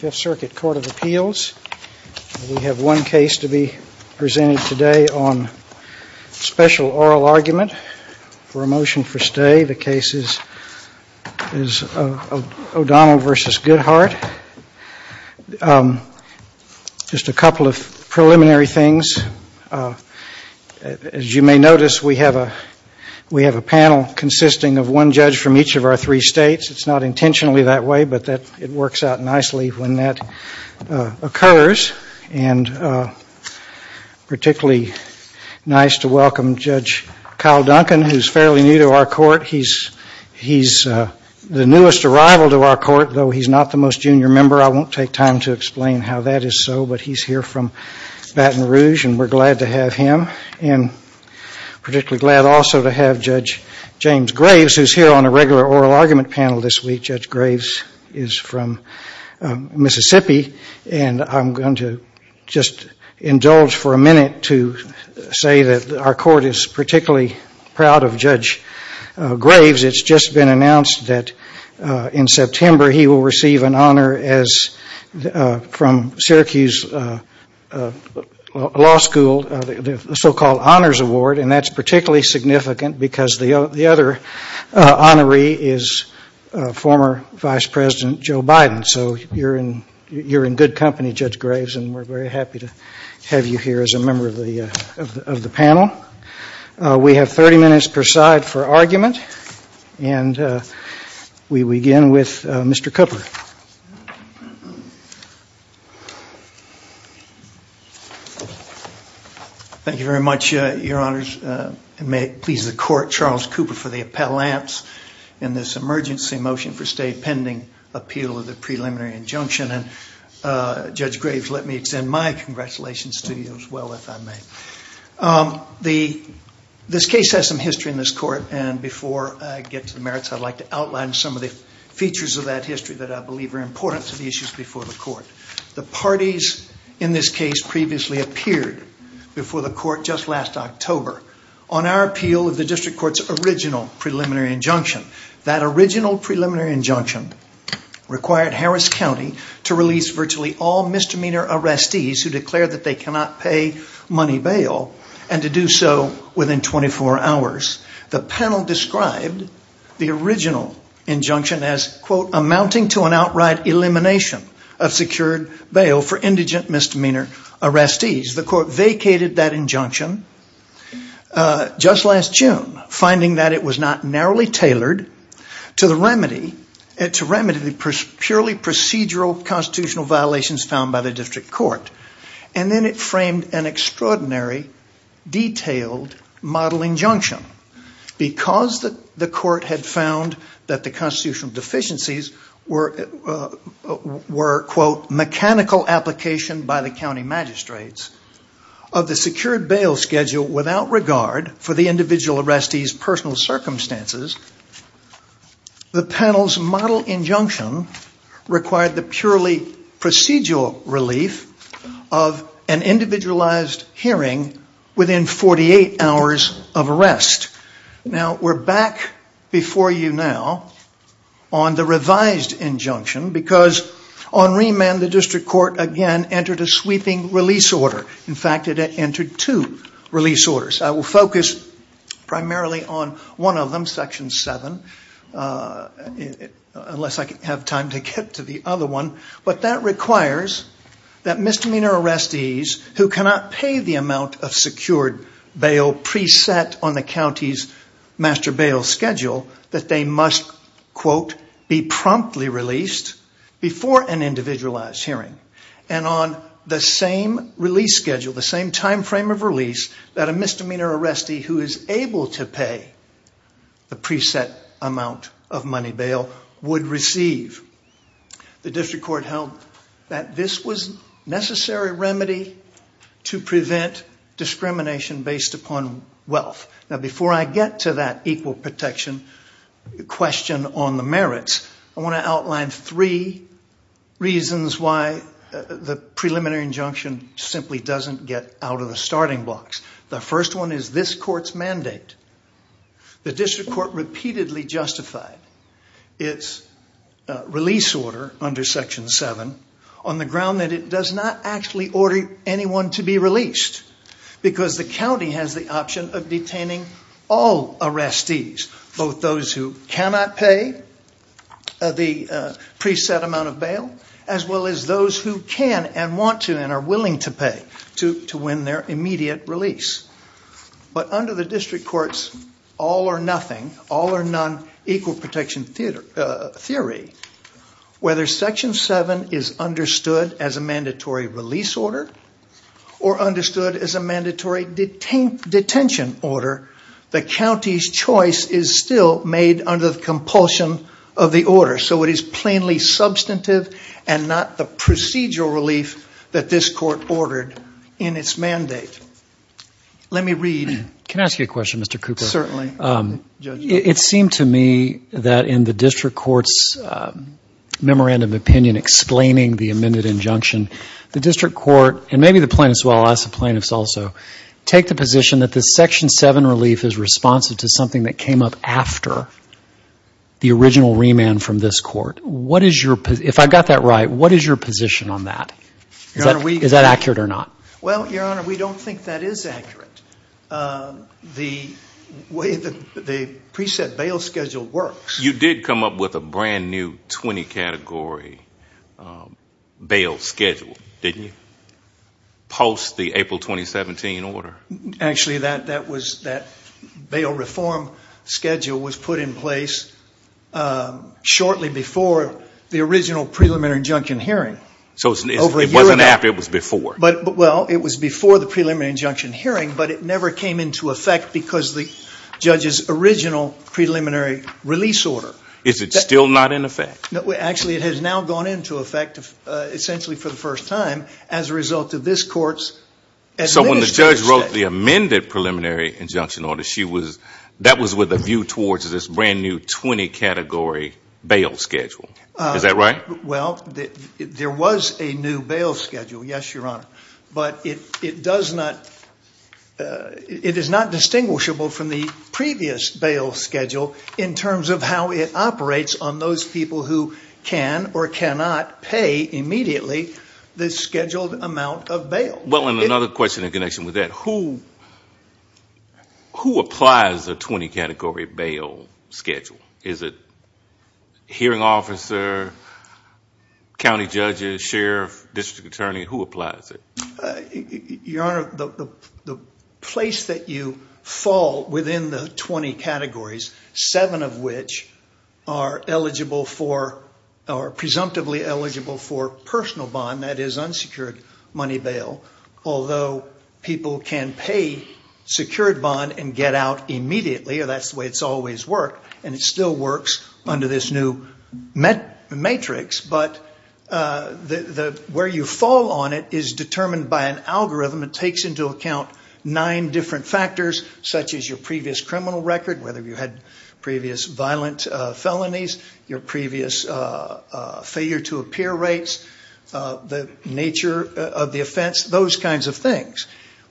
5th Circuit Court of Appeals. We have one case to be presented today on special oral argument for a motion for stay. The case is ODonnell v. Goodhart. Just a couple of preliminary things. As you may notice, we have a panel consisting of one judge from each of our three states. It's not intentionally that way, but it works out nicely when that occurs. It's particularly nice to welcome Judge Kyle Duncan, who's fairly new to our court. He's the newest arrival to our court, though he's not the most junior member. I won't take time to explain how that is so, but he's here from Baton Rouge and we're glad to have him. I'm particularly glad also to have Judge James Graves, who's here on a regular oral argument panel this week. Judge Graves is from Mississippi. I'm going to just indulge for a minute to say that our court is particularly proud of Judge Graves. It's just been announced that in September he will receive an honor from Syracuse Law School, the so-called Honors Award, and that's particularly significant because the other honoree is former Vice President Joe Biden. So you're in good company, Judge Graves, and we're very happy to have you here as a member of the panel. We have 30 minutes per side for argument, and we begin with Mr. Cooper. Thank you very much, Your Honors, and may it please the Court, Charles Cooper for the appellants in this emergency motion for stay pending appeal of the preliminary injunction, and Judge Graves, let me extend my congratulations to you as well, if I may. This case has some history in this court, and before I get to the merits, I'd like to outline some of the features of that history that I believe are important to the issues before the court. The parties in this case previously appeared before the court just last October on our appeal of the district court's original preliminary injunction. That original preliminary injunction required Harris County to release virtually all misdemeanor arrestees who declared that they cannot pay money bail and to do so within 24 hours. The panel described the original injunction as, quote, amounting to an outright elimination of secured bail for indigent misdemeanor arrestees. The court vacated that injunction just last June, finding that it was not narrowly tailored to remedy the purely procedural constitutional violations found by the district court. And then it framed an extraordinary, detailed model injunction. Because the court had found that the constitutional deficiencies were, quote, mechanical application by the county magistrates of the secured bail schedule without regard for the individual arrestees' personal circumstances, the panel's model injunction required the purely procedural relief of an individualized hearing within 48 hours of arrest. Now, we're back before you now on the revised injunction because on remand, the district court again entered a sweeping release order. In fact, it entered two release orders. I will focus primarily on one of them, Section 7, unless I have time to get to the other one. But that requires that misdemeanor arrestees who cannot pay the amount of secured bail preset on the county's master bail schedule that they must, quote, be promptly released before an individualized hearing. And on the same release schedule, the same timeframe of release, that a misdemeanor arrestee who is able to pay the preset amount of money bail would receive. The district court held that this was a necessary remedy to prevent discrimination based upon wealth. Now, before I get to that equal protection question on the merits, I want to outline three reasons why the preliminary injunction simply doesn't get out of the starting blocks. The first one is this court's mandate. The district court repeatedly justified its release order under Section 7 on the ground that it does not actually order anyone to be released because the county has the option of detaining all arrestees, both those who cannot pay the preset amount of bail as well as those who can and want to and are willing to pay to win their immediate release. But under the district court's all or nothing, all or none, equal protection theory, whether Section 7 is understood as a mandatory release order or understood as a mandatory detention order, the county's choice is still made under the compulsion of the order. So it is plainly substantive and not the procedural relief that this court ordered in its mandate. Let me read. Can I ask you a question, Mr. Cooper? Certainly. It seemed to me that in the district court's memorandum of opinion explaining the amended injunction, the district court, and maybe the plaintiffs, also, take the position that this Section 7 relief is responsive to something that came up after the original remand from this court. If I got that right, what is your position on that? Is that accurate or not? Well, Your Honor, we don't think that is accurate. The way the preset bail schedule works. You did come up with a brand new 20-category bail schedule, didn't you? Post the April 2017 order. Actually, that bail reform schedule was put in place shortly before the original preliminary injunction hearing. So it wasn't after, it was before. Well, it was before the preliminary injunction hearing, but it never came into effect because the judge's original preliminary release order. Is it still not in effect? Actually, it has now gone into effect essentially for the first time as a result of this court's. So when the judge wrote the amended preliminary injunction order, that was with a view towards this brand new 20-category bail schedule. Is that right? Well, there was a new bail schedule, yes, Your Honor. But it does not, it is not distinguishable from the previous bail schedule in terms of how it operates on those people who can or cannot pay immediately the scheduled amount of bail. Well, and another question in connection with that, who applies a 20-category bail schedule? Is it hearing officer, county judges, sheriff, district attorney, who applies it? Your Honor, the place that you fall within the 20 categories, seven of which are eligible for, are presumptively eligible for personal bond, that is unsecured money bail. Although people can pay secured bond and get out immediately, or that's the way it's always worked, and it still works under this new matrix. But where you fall on it is determined by an algorithm that takes into account nine different factors, such as your previous criminal record, whether you had previous violent felonies, your previous failure to appear rates, the nature of the offense, those kinds of things.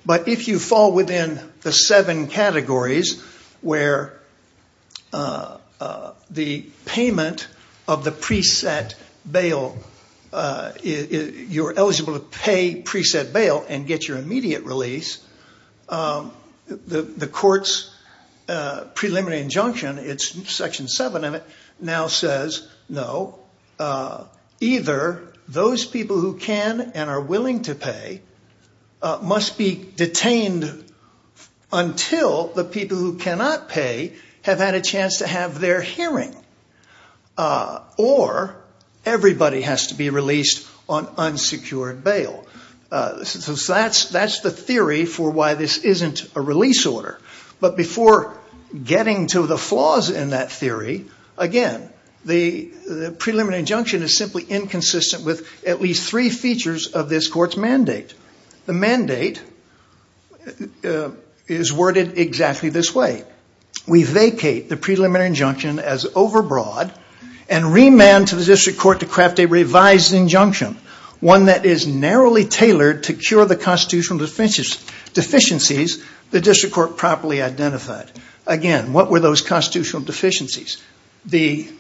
But if you fall within the seven categories where the payment of the preset bail, you're eligible to pay preset bail and get your immediate release, the court's preliminary injunction, it's Section 7 of it, now says, no, either those people who can and are willing to pay must be detained until the people who cannot pay have had a chance to have their hearing, or everybody has to be released on unsecured bail. So that's the theory for why this isn't a release order. But before getting to the flaws in that theory, again, the preliminary injunction is simply inconsistent with at least three features of this court's mandate. The mandate is worded exactly this way. We vacate the preliminary injunction as overbroad and remand to the district court to craft a revised injunction, one that is narrowly tailored to cure the constitutional deficiencies the district court properly identified. Again, what were those constitutional deficiencies? As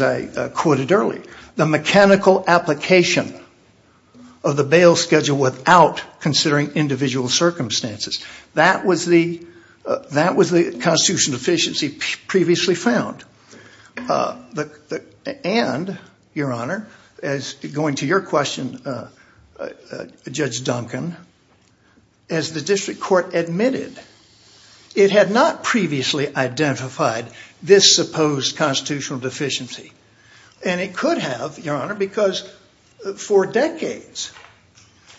I quoted earlier, the mechanical application of the bail schedule without considering individual circumstances. That was the constitutional deficiency previously found. And, Your Honor, going to your question, Judge Duncan, as the district court admitted, it had not previously identified this supposed constitutional deficiency. And it could have, Your Honor, because for decades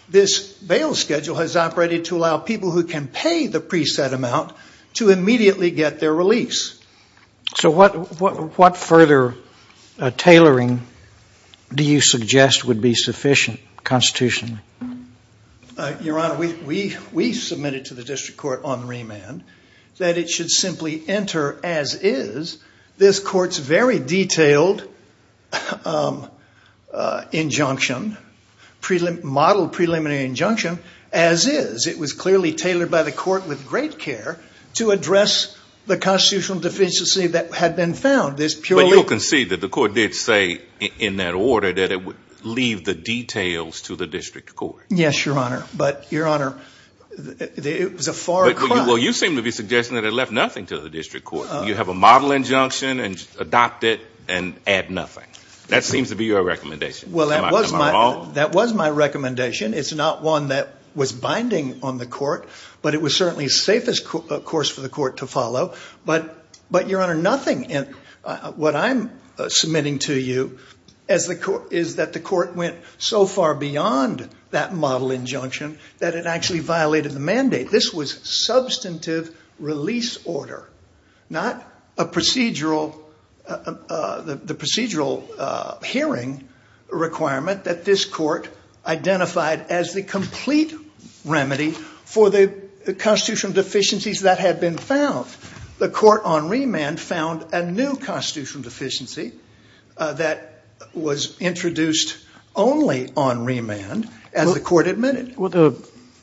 this bail schedule has operated to allow people who can pay the preset amount to immediately get their release. So what further tailoring do you suggest would be sufficient constitutionally? Your Honor, we submitted to the district court on remand that it should simply enter as is this court's very detailed injunction, modeled preliminary injunction as is. It was clearly tailored by the court with great care to address the constitutional deficiency that had been found. But you can see that the court did say in that order that it would leave the details to the district court. Yes, Your Honor. But, Your Honor, it was a far cry. Well, you seem to be suggesting that it left nothing to the district court. You have a model injunction and adopt it and add nothing. That seems to be your recommendation. Am I wrong? Well, that was my recommendation. It's not one that was binding on the court, but it was certainly the safest course for the court to follow. But, Your Honor, nothing. What I'm submitting to you is that the court went so far beyond that model injunction that it actually violated the mandate. This was substantive release order, not the procedural hearing requirement that this court identified as the complete remedy for the constitutional deficiencies that had been found. The court on remand found a new constitutional deficiency that was introduced only on remand as the court admitted.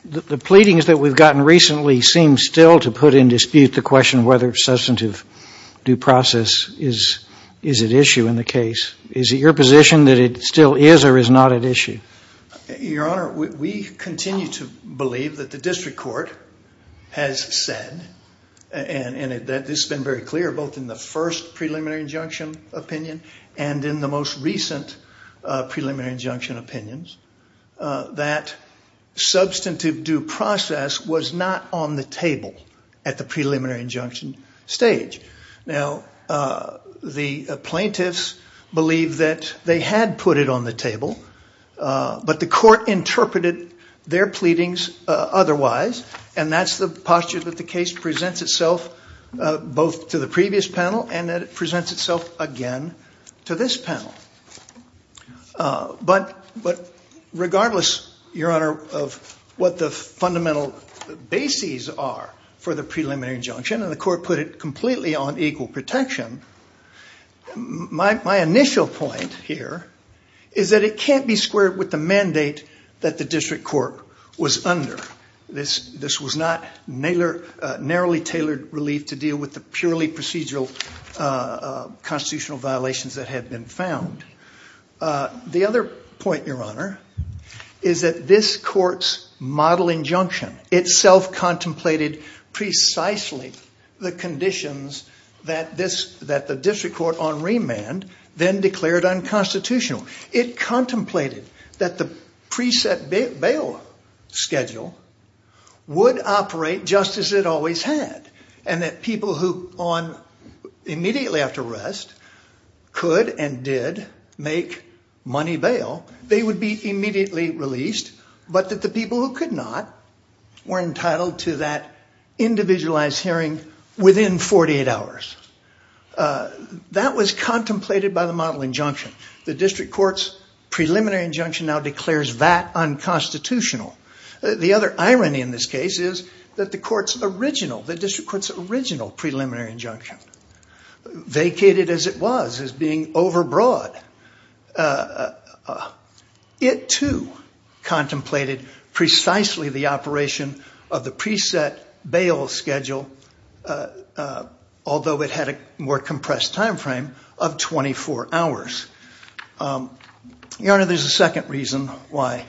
The pleadings that we've gotten recently seem still to put in dispute the question whether substantive due process is at issue in the case. Is it your position that it still is or is not at issue? Your Honor, we continue to believe that the district court has said, and this has been very clear both in the first preliminary injunction opinion and in the most recent preliminary injunction opinions, that substantive due process was not on the table at the preliminary injunction stage. Now, the plaintiffs believe that they had put it on the table, but the court interpreted their pleadings otherwise, and that's the posture that the case presents itself both to the previous panel and that it presents itself again to this panel. But regardless, Your Honor, of what the fundamental bases are for the preliminary injunction, and the court put it completely on equal protection, my initial point here is that it can't be squared with the mandate that the district court was under. This was not narrowly tailored relief to deal with the purely procedural constitutional violations that had been found. The other point, Your Honor, is that this court's model injunction itself contemplated precisely the conditions that the district court on remand then declared unconstitutional. It contemplated that the preset bail schedule would operate just as it always had, and that people who, immediately after arrest, could and did make money bail, they would be immediately released, but that the people who could not were entitled to that individualized hearing within 48 hours. That was contemplated by the model injunction. The district court's preliminary injunction now declares that unconstitutional. The other irony in this case is that the district court's original preliminary injunction, vacated as it was, as being overbroad, it too contemplated precisely the operation of the preset bail schedule, although it had a more compressed time frame, of 24 hours. Your Honor, there's a second reason why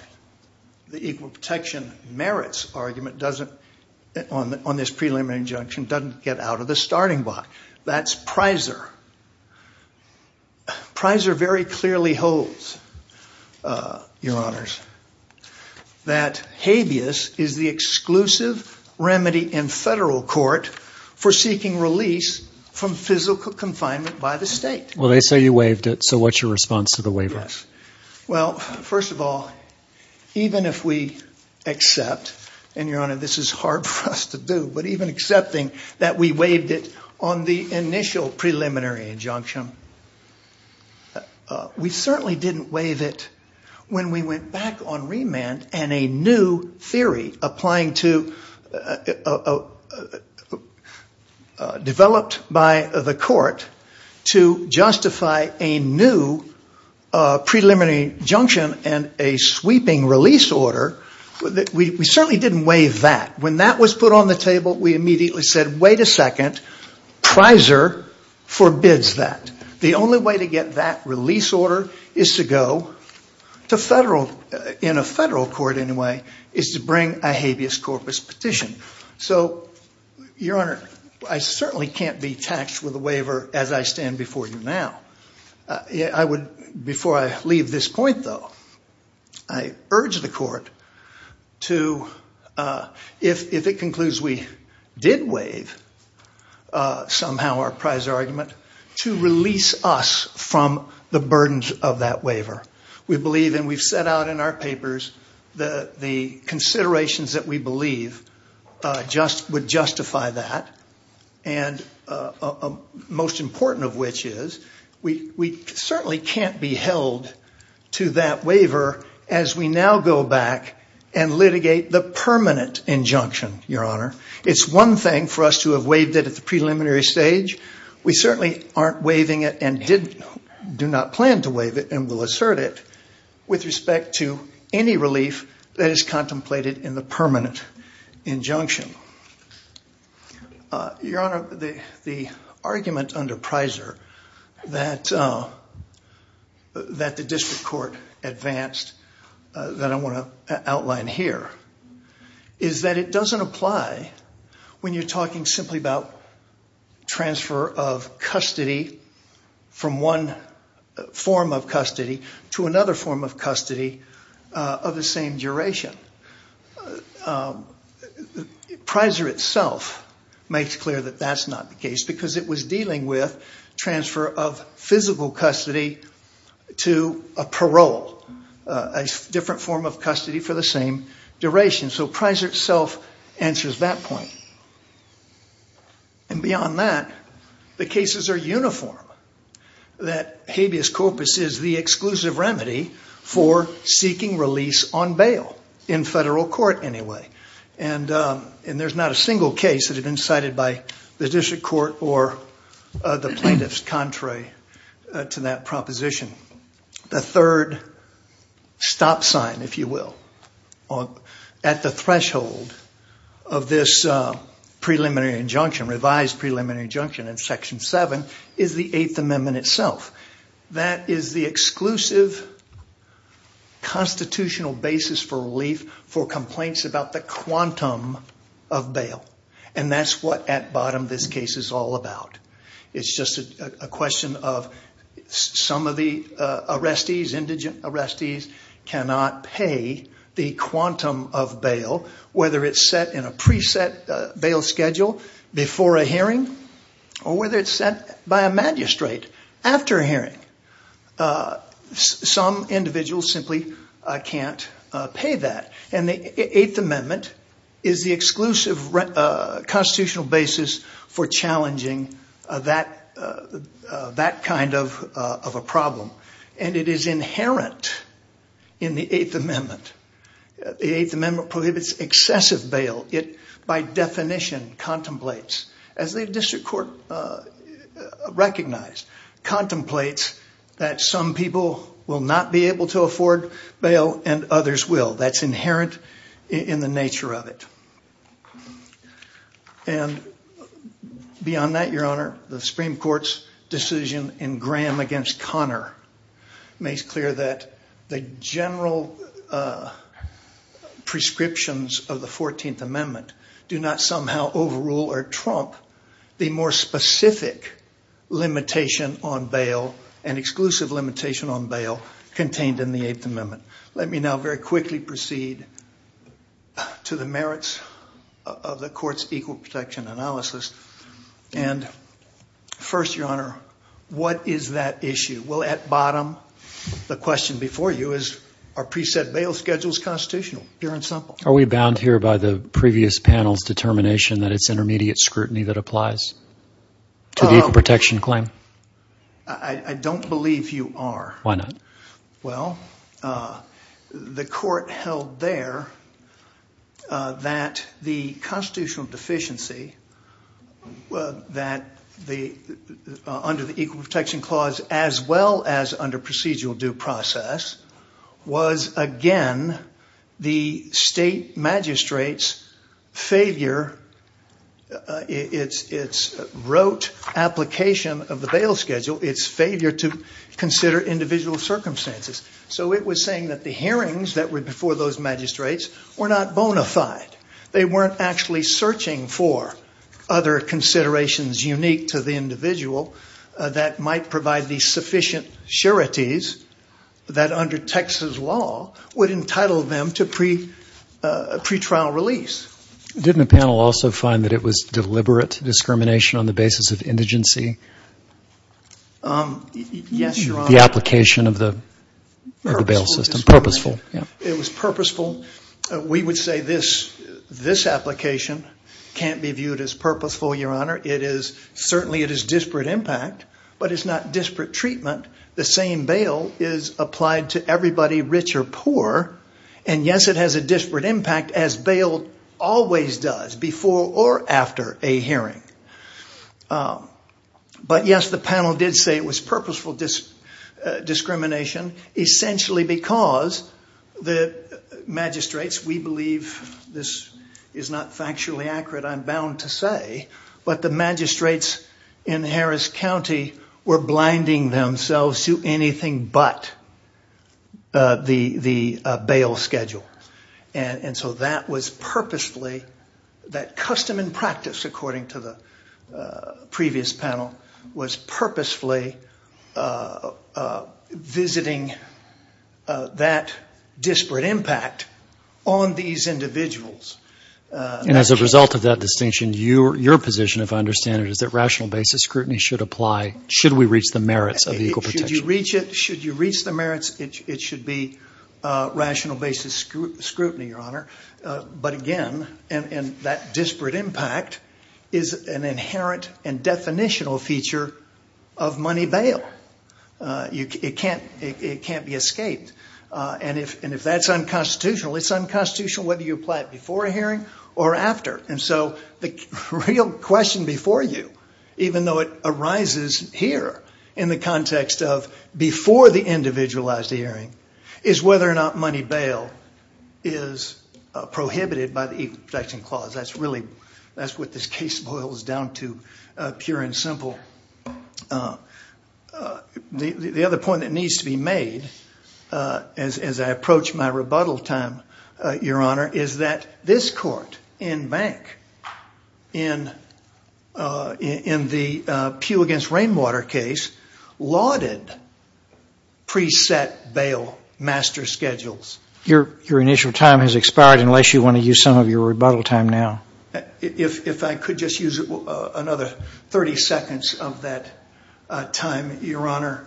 the equal protection merits argument on this preliminary injunction doesn't get out of the starting block. That's Prysor. Prysor very clearly holds, Your Honors, that habeas is the exclusive remedy in federal court for seeking release from physical confinement by the state. Well, they say you waived it, so what's your response to the waiver? Well, first of all, even if we accept, and Your Honor, this is hard for us to do, but even accepting that we waived it on the initial preliminary injunction, we certainly didn't waive it when we went back on remand and a new theory developed by the court to justify a new preliminary injunction and a sweeping release order. We certainly didn't waive that. When that was put on the table, we immediately said, wait a second, Prysor forbids that. The only way to get that release order is to go to federal, in a federal court anyway, is to bring a habeas corpus petition. So, Your Honor, I certainly can't be taxed with a waiver as I stand before you now. Before I leave this point, though, I urge the court to, if it concludes we did waive somehow our Prysor argument, to release us from the burdens of that waiver. We believe, and we've set out in our papers, the considerations that we believe would justify that. And most important of which is, we certainly can't be held to that waiver as we now go back and litigate the permanent injunction, Your Honor. It's one thing for us to have waived it at the preliminary stage. We certainly aren't waiving it and do not plan to waive it and will assert it with respect to any relief that is contemplated in the permanent injunction. Your Honor, the argument under Prysor that the district court advanced, that I want to outline here, is that it doesn't apply when you're talking simply about transfer of custody from one form of custody to another form of custody of the same duration. Prysor itself makes clear that that's not the case because it was dealing with transfer of physical custody to a parole, a different form of custody for the same duration. So Prysor itself answers that point. And beyond that, the cases are uniform. That habeas corpus is the exclusive remedy for seeking release on bail, in federal court anyway. And there's not a single case that has been cited by the district court or the plaintiffs contrary to that proposition. The third stop sign, if you will, at the threshold of this preliminary injunction, revised preliminary injunction in Section 7, is the Eighth Amendment itself. That is the exclusive constitutional basis for relief for complaints about the quantum of bail. And that's what at bottom this case is all about. It's just a question of some of the arrestees, indigent arrestees, cannot pay the quantum of bail, whether it's set in a pre-set bail schedule before a hearing or whether it's set by a magistrate after a hearing. Some individuals simply can't pay that. And the Eighth Amendment is the exclusive constitutional basis for challenging that kind of a problem. And it is inherent in the Eighth Amendment. The Eighth Amendment prohibits excessive bail. It by definition contemplates, as the district court recognized, contemplates that some people will not be able to afford bail and others will. That's inherent in the nature of it. And beyond that, Your Honor, the Supreme Court's decision in Graham against Connor makes clear that the general prescriptions of the Fourteenth Amendment do not somehow overrule or trump the more specific limitation on bail and exclusive limitation on bail contained in the Eighth Amendment. Let me now very quickly proceed to the merits of the court's equal protection analysis. And first, Your Honor, what is that issue? Well, at bottom, the question before you is, are pre-set bail schedules constitutional? Pure and simple. Are we bound here by the previous panel's determination that it's intermediate scrutiny that applies to the equal protection claim? I don't believe you are. Why not? Well, the court held there that the constitutional deficiency under the Equal Protection Clause as well as under procedural due process was, again, the state magistrate's failure, its rote application of the bail schedule, its failure to consider individual circumstances. So it was saying that the hearings that were before those magistrates were not bona fide. They weren't actually searching for other considerations unique to the individual that might provide the sufficient sureties that under Texas law would entitle them to pretrial release. Didn't the panel also find that it was deliberate discrimination on the basis of indigency? Yes, Your Honor. The application of the bail system. Purposeful discrimination. Purposeful, yeah. This application can't be viewed as purposeful, Your Honor. It is, certainly it is disparate impact, but it's not disparate treatment. The same bail is applied to everybody rich or poor. And yes, it has a disparate impact as bail always does before or after a hearing. But yes, the panel did say it was purposeful discrimination essentially because the magistrates, we believe this is not factually accurate, I'm bound to say, but the magistrates in Harris County were blinding themselves to anything but the bail schedule. And so that was purposefully, that custom and practice, according to the previous panel, was purposefully visiting that disparate impact on these individuals. And as a result of that distinction, your position, if I understand it, is that rational basis scrutiny should apply should we reach the merits of equal protection. Should you reach it, should you reach the merits, it should be rational basis scrutiny, Your Honor. But again, and that disparate impact is an inherent and definitional feature of money bail. It can't be escaped. And if that's unconstitutional, it's unconstitutional whether you apply it before a hearing or after. And so the real question before you, even though it arises here in the context of before the individualized hearing, is whether or not money bail is prohibited by the Equal Protection Clause. That's really, that's what this case boils down to, pure and simple. The other point that needs to be made as I approach my rebuttal time, Your Honor, is that this court in Bank, in the Pugh against Rainwater case, lauded pre-set bail master schedules. Your initial time has expired unless you want to use some of your rebuttal time now. If I could just use another 30 seconds of that time, Your Honor,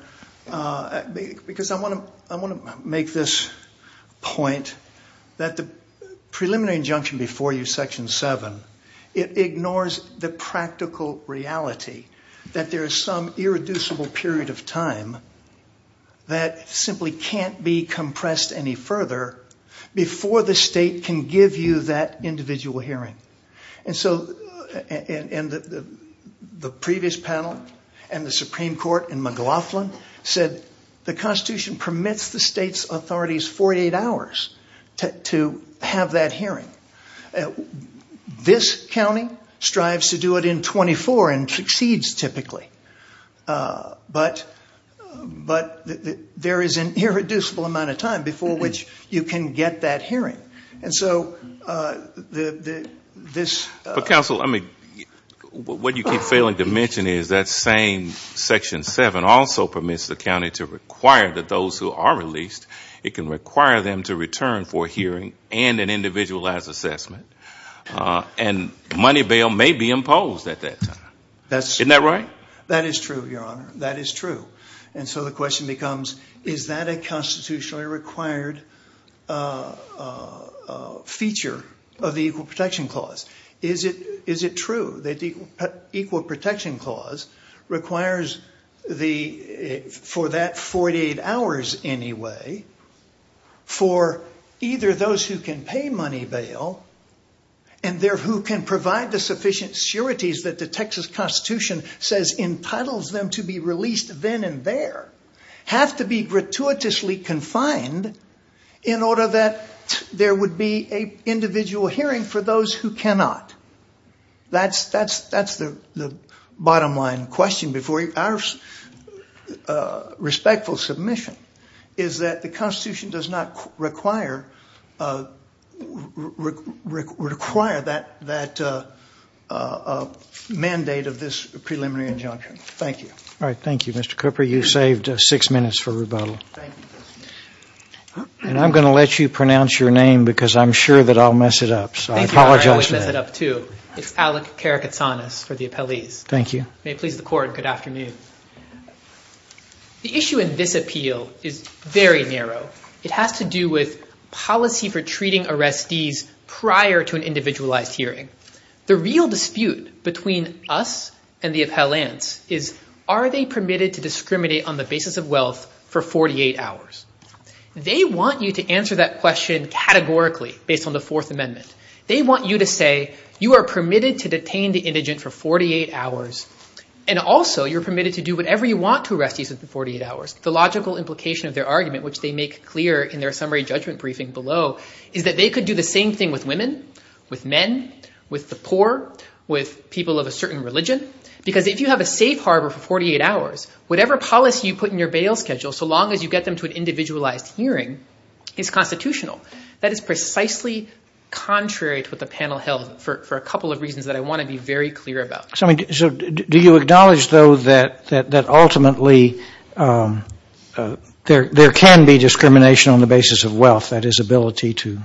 because I want to make this point that the preliminary injunction before you, Section 7, it ignores the practical reality that there is some irreducible period of time that simply can't be compressed any further before the state can give you that individual hearing. And so the previous panel and the Supreme Court in McLaughlin said the Constitution permits the state's authorities 48 hours to have that hearing. This county strives to do it in 24 and succeeds typically. But there is an irreducible amount of time before which you can get that hearing. And so this... And money bail may be imposed at that time. Isn't that right? That is true, Your Honor. That is true. And so the question becomes, is that a constitutionally required feature of the Equal Protection Clause? Is it true that the Equal Protection Clause requires for that 48 hours anyway for either those who can pay money bail and who can provide the sufficient sureties that the Texas Constitution says entitles them to be released then and there, have to be gratuitously confined in order that there would be an individual hearing for those who cannot? That's the bottom line question before you. Our respectful submission is that the Constitution does not require that mandate of this preliminary injunction. Thank you. All right. Thank you, Mr. Cooper. You saved six minutes for rebuttal. Thank you. And I'm going to let you pronounce your name because I'm sure that I'll mess it up. So I apologize for that. Thank you. I always mess it up too. It's Alec Karakatsanas for the appellees. Thank you. May it please the Court. Good afternoon. The issue in this appeal is very narrow. It has to do with policy for treating arrestees prior to an individualized hearing. The real dispute between us and the appellants is are they permitted to discriminate on the basis of wealth for 48 hours? They want you to answer that question categorically based on the Fourth Amendment. They want you to say you are permitted to detain the indigent for 48 hours and also you're permitted to do whatever you want to arrestees for 48 hours. The logical implication of their argument, which they make clear in their summary judgment briefing below, is that they could do the same thing with women, with men, with the poor, with people of a certain religion. Because if you have a safe harbor for 48 hours, whatever policy you put in your bail schedule, so long as you get them to an individualized hearing, is constitutional. That is precisely contrary to what the panel held for a couple of reasons that I want to be very clear about. So do you acknowledge, though, that ultimately there can be discrimination on the basis of wealth, that is, ability to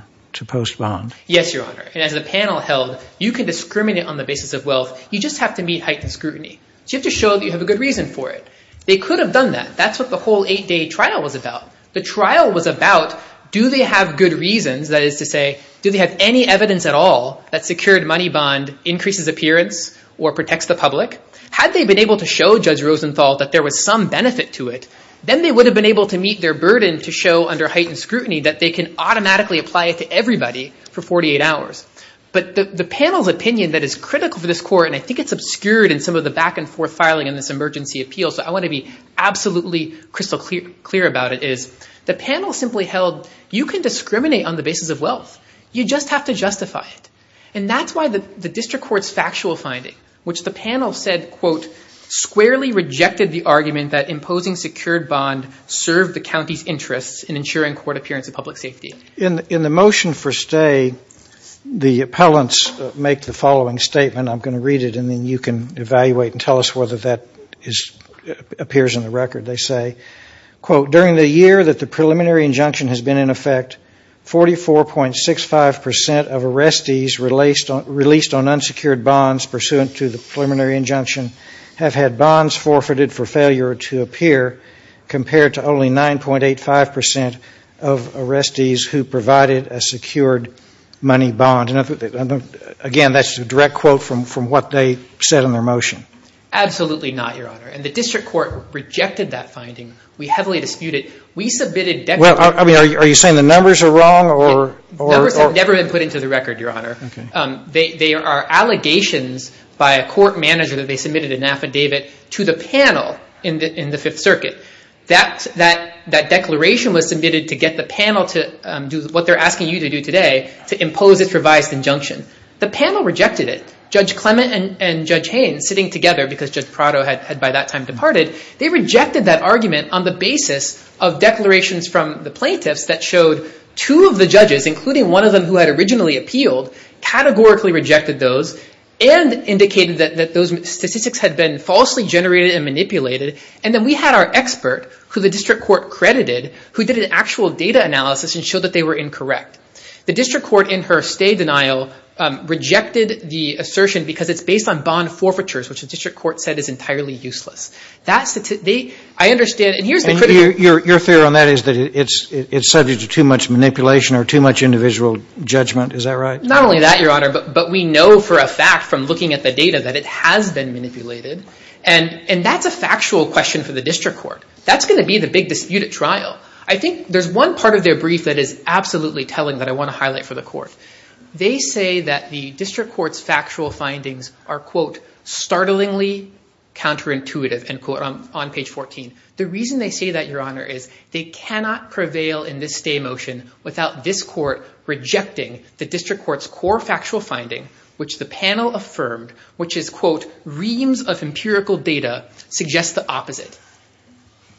post bond? Yes, Your Honor. As the panel held, you can discriminate on the basis of wealth. You just have to meet heightened scrutiny. You have to show that you have a good reason for it. They could have done that. That's what the whole eight-day trial was about. The trial was about do they have good reasons, that is to say, do they have any evidence at all that secured money bond increases appearance or protects the public? Had they been able to show Judge Rosenthal that there was some benefit to it, then they would have been able to meet their burden to show under heightened scrutiny that they can automatically apply it to everybody for 48 hours. But the panel's opinion that is critical for this court, and I think it's obscured in some of the back and forth filing in this emergency appeal, so I want to be absolutely crystal clear about it, is the panel simply held you can discriminate on the basis of wealth. You just have to justify it. And that's why the district court's factual finding, which the panel said, quote, squarely rejected the argument that imposing secured bond served the county's interests in ensuring court appearance and public safety. In the motion for stay, the appellants make the following statement. I'm going to read it and then you can evaluate and tell us whether that appears in the record, they say. Quote, during the year that the preliminary injunction has been in effect, 44.65 percent of arrestees released on unsecured bonds pursuant to the preliminary injunction have had bonds forfeited for failure to appear, compared to only 9.85 percent of arrestees who provided a secured money bond. Again, that's a direct quote from what they said in their motion. Absolutely not, Your Honor. And the district court rejected that finding. We heavily disputed it. We submitted declarations. Are you saying the numbers are wrong? Numbers have never been put into the record, Your Honor. They are allegations by a court manager that they submitted an affidavit to the panel in the Fifth Circuit. That declaration was submitted to get the panel to do what they're asking you to do today, to impose its revised injunction. The panel rejected it. Judge Clement and Judge Haynes, sitting together because Judge Prado had by that time departed, they rejected that argument on the basis of declarations from the plaintiffs that showed two of the judges, including one of them who had originally appealed, categorically rejected those and indicated that those statistics had been falsely generated and manipulated. And then we had our expert, who the district court credited, who did an actual data analysis and showed that they were incorrect. The district court in her stay denial rejected the assertion because it's based on bond forfeitures, which the district court said is entirely useless. I understand. Your theory on that is that it's subject to too much manipulation or too much individual judgment. Is that right? Not only that, Your Honor, but we know for a fact from looking at the data that it has been manipulated. And that's a factual question for the district court. That's going to be the big dispute at trial. I think there's one part of their brief that is absolutely telling that I want to highlight for the court. They say that the district court's factual findings are, quote, startlingly counterintuitive, end quote, on page 14. The reason they say that, Your Honor, is they cannot prevail in this stay motion without this court rejecting the district court's core factual finding, which the panel affirmed, which is, quote, reams of empirical data suggests the opposite.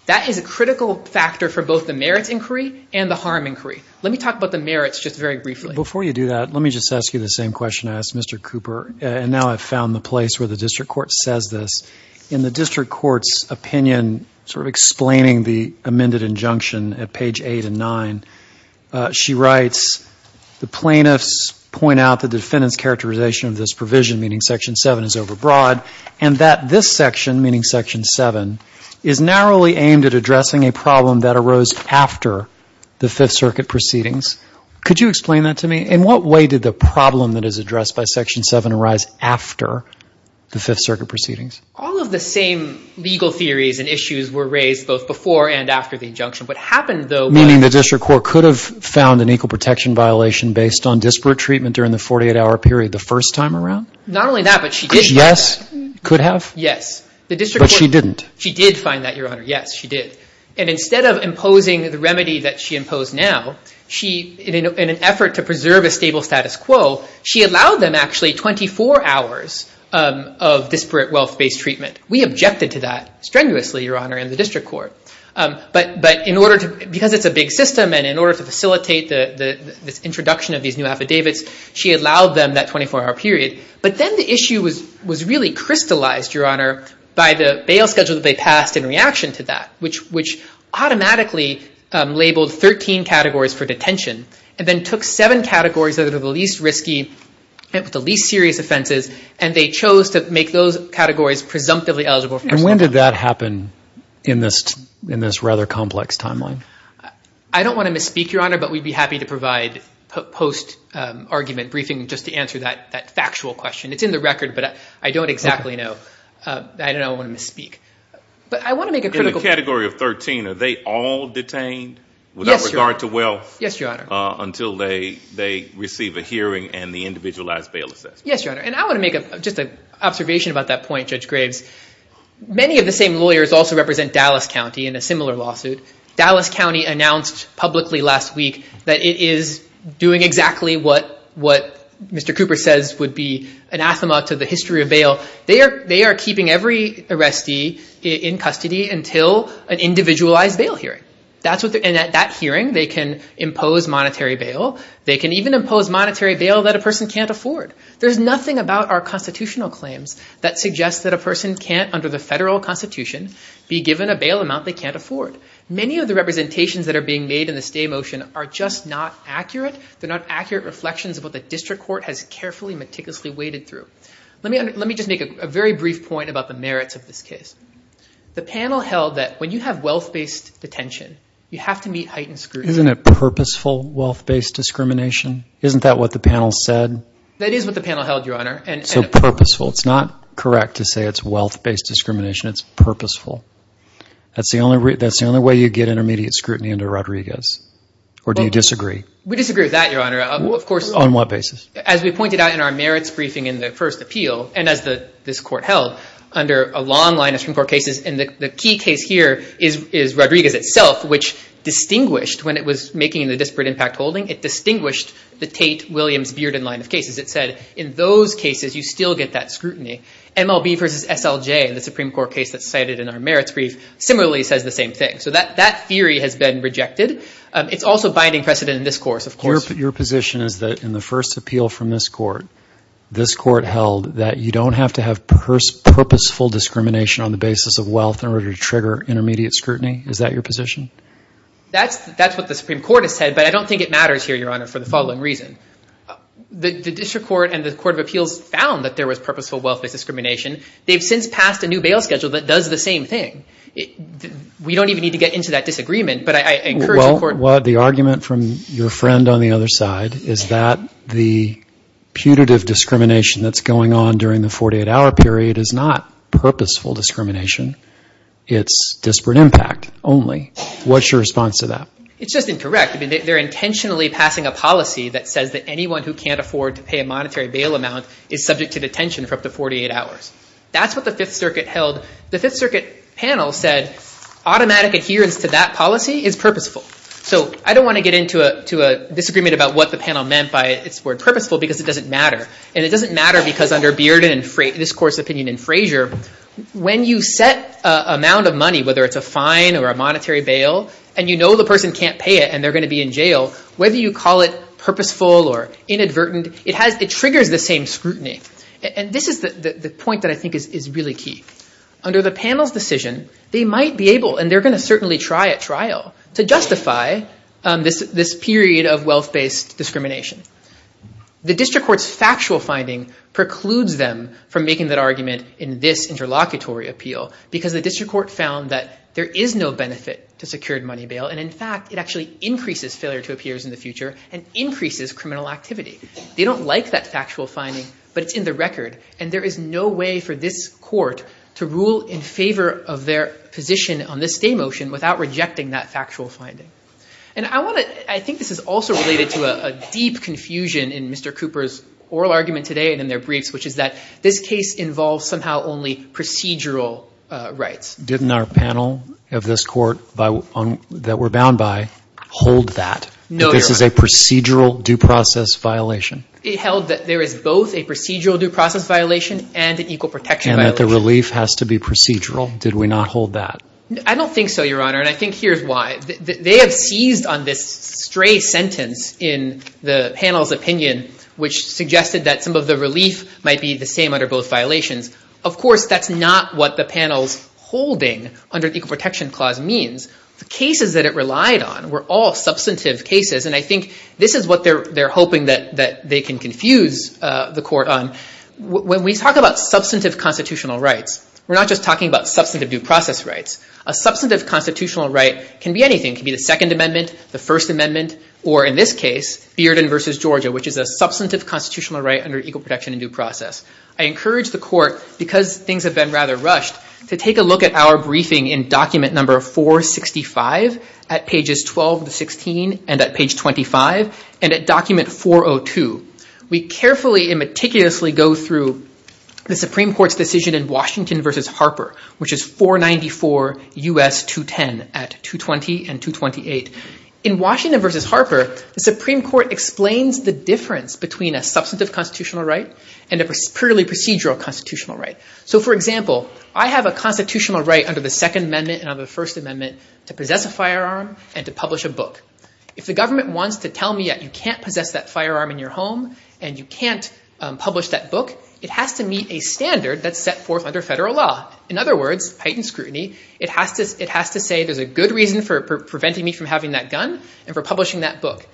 That is a critical factor for both the merits inquiry and the harm inquiry. Let me talk about the merits just very briefly. Before you do that, let me just ask you the same question I asked Mr. Cooper. And now I've found the place where the district court says this. In the district court's opinion, sort of explaining the amended injunction at page 8 and 9, she writes, the plaintiffs point out the defendant's characterization of this provision, meaning section 7 is overbroad, and that this section, meaning section 7, is narrowly aimed at addressing a problem that arose after the Fifth Circuit proceedings. Could you explain that to me? In what way did the problem that is addressed by section 7 arise after the Fifth Circuit proceedings? All of the same legal theories and issues were raised both before and after the injunction. Meaning the district court could have found an equal protection violation based on disparate treatment during the 48-hour period the first time around? Not only that, but she did. Yes, could have? Yes. But she didn't. She did find that, Your Honor. Yes, she did. And instead of imposing the remedy that she imposed now, in an effort to preserve a stable status quo, she allowed them actually 24 hours of disparate wealth-based treatment. We objected to that strenuously, Your Honor, in the district court. But because it's a big system and in order to facilitate this introduction of these new affidavits, she allowed them that 24-hour period. But then the issue was really crystallized, Your Honor, by the bail schedule that they passed in reaction to that, which automatically labeled 13 categories for detention, and then took seven categories that are the least risky, the least serious offenses, and they chose to make those categories presumptively eligible. And when did that happen in this rather complex timeline? I don't want to misspeak, Your Honor, but we'd be happy to provide post-argument briefing just to answer that factual question. It's in the record, but I don't exactly know. I don't want to misspeak. But I want to make a critical point. In the category of 13, are they all detained without regard to wealth? Yes, Your Honor. Until they receive a hearing and the individualized bail assessment? Yes, Your Honor. And I want to make just an observation about that point, Judge Graves. Many of the same lawyers also represent Dallas County in a similar lawsuit. Dallas County announced publicly last week that it is doing exactly what Mr. Cooper says would be anathema to the history of bail. They are keeping every arrestee in custody until an individualized bail hearing. And at that hearing, they can impose monetary bail. They can even impose monetary bail that a person can't afford. There's nothing about our constitutional claims that suggests that a person can't, under the federal constitution, be given a bail amount they can't afford. Many of the representations that are being made in the stay motion are just not accurate. They're not accurate reflections of what the district court has carefully, meticulously waded through. Let me just make a very brief point about the merits of this case. The panel held that when you have wealth-based detention, you have to meet heightened scrutiny. Isn't it purposeful wealth-based discrimination? Isn't that what the panel said? That is what the panel held, Your Honor. So purposeful. It's not correct to say it's wealth-based discrimination. It's purposeful. That's the only way you get intermediate scrutiny under Rodriguez. Or do you disagree? We disagree with that, Your Honor. Of course. On what basis? As we pointed out in our merits briefing in the first appeal, and as this court held, under a long line of Supreme Court cases, and the key case here is Rodriguez itself, which distinguished when it was making the disparate impact holding, it distinguished the Tate-Williams-Bearden line of cases. It said in those cases you still get that scrutiny. MLB versus SLJ, the Supreme Court case that's cited in our merits brief, similarly says the same thing. So that theory has been rejected. It's also binding precedent in this course, of course. Your position is that in the first appeal from this court, this court held that you don't have to have purposeful discrimination on the basis of wealth in order to trigger intermediate scrutiny? Is that your position? That's what the Supreme Court has said, but I don't think it matters here, Your Honor, for the following reason. The district court and the court of appeals found that there was purposeful wealth-based discrimination. They've since passed a new bail schedule that does the same thing. We don't even need to get into that disagreement, but I encourage the court to do so. Well, the argument from your friend on the other side is that the putative discrimination that's going on during the 48-hour period is not purposeful discrimination. It's disparate impact only. What's your response to that? It's just incorrect. They're intentionally passing a policy that says that anyone who can't afford to pay a monetary bail amount is subject to detention for up to 48 hours. That's what the Fifth Circuit held. The Fifth Circuit panel said automatic adherence to that policy is purposeful. So I don't want to get into a disagreement about what the panel meant by its word purposeful because it doesn't matter. And it doesn't matter because under Bearden and this court's opinion in Frazier, when you set an amount of money, whether it's a fine or a monetary bail, and you know the person can't pay it and they're going to be in jail, whether you call it purposeful or inadvertent, it triggers the same scrutiny. And this is the point that I think is really key. Under the panel's decision, they might be able, and they're going to certainly try at trial, to justify this period of wealth-based discrimination. The district court's factual finding precludes them from making that argument in this interlocutory appeal because the district court found that there is no benefit to secured money bail, and, in fact, it actually increases failure to appear in the future and increases criminal activity. They don't like that factual finding, but it's in the record, and there is no way for this court to rule in favor of their position on this stay motion without rejecting that factual finding. And I want to, I think this is also related to a deep confusion in Mr. Cooper's oral argument today and in their briefs, which is that this case involves somehow only procedural rights. Didn't our panel of this court that we're bound by hold that? No, Your Honor. This is a procedural due process violation. It held that there is both a procedural due process violation and an equal protection violation. And that the relief has to be procedural. Did we not hold that? I don't think so, Your Honor, and I think here's why. They have seized on this stray sentence in the panel's opinion, which suggested that some of the relief might be the same under both violations. Of course, that's not what the panel's holding under the equal protection clause means. The cases that it relied on were all substantive cases, and I think this is what they're hoping that they can confuse the court on. When we talk about substantive constitutional rights, we're not just talking about substantive due process rights. A substantive constitutional right can be anything. It can be the Second Amendment, the First Amendment, or in this case, Bearden v. Georgia, which is a substantive constitutional right under equal protection and due process. I encourage the court, because things have been rather rushed, to take a look at our briefing in document number 465 at pages 12 to 16, and at page 25, and at document 402. We carefully and meticulously go through the Supreme Court's decision in Washington v. Harper, which is 494 U.S. 210 at 220 and 228. In Washington v. Harper, the Supreme Court explains the difference between a substantive constitutional right and a purely procedural constitutional right. For example, I have a constitutional right under the Second Amendment and under the First Amendment to possess a firearm and to publish a book. If the government wants to tell me that you can't possess that firearm in your home and you can't publish that book, it has to meet a standard that's set forth under federal law. In other words, heightened scrutiny, it has to say, there's a good reason for preventing me from having that gun and for publishing that book.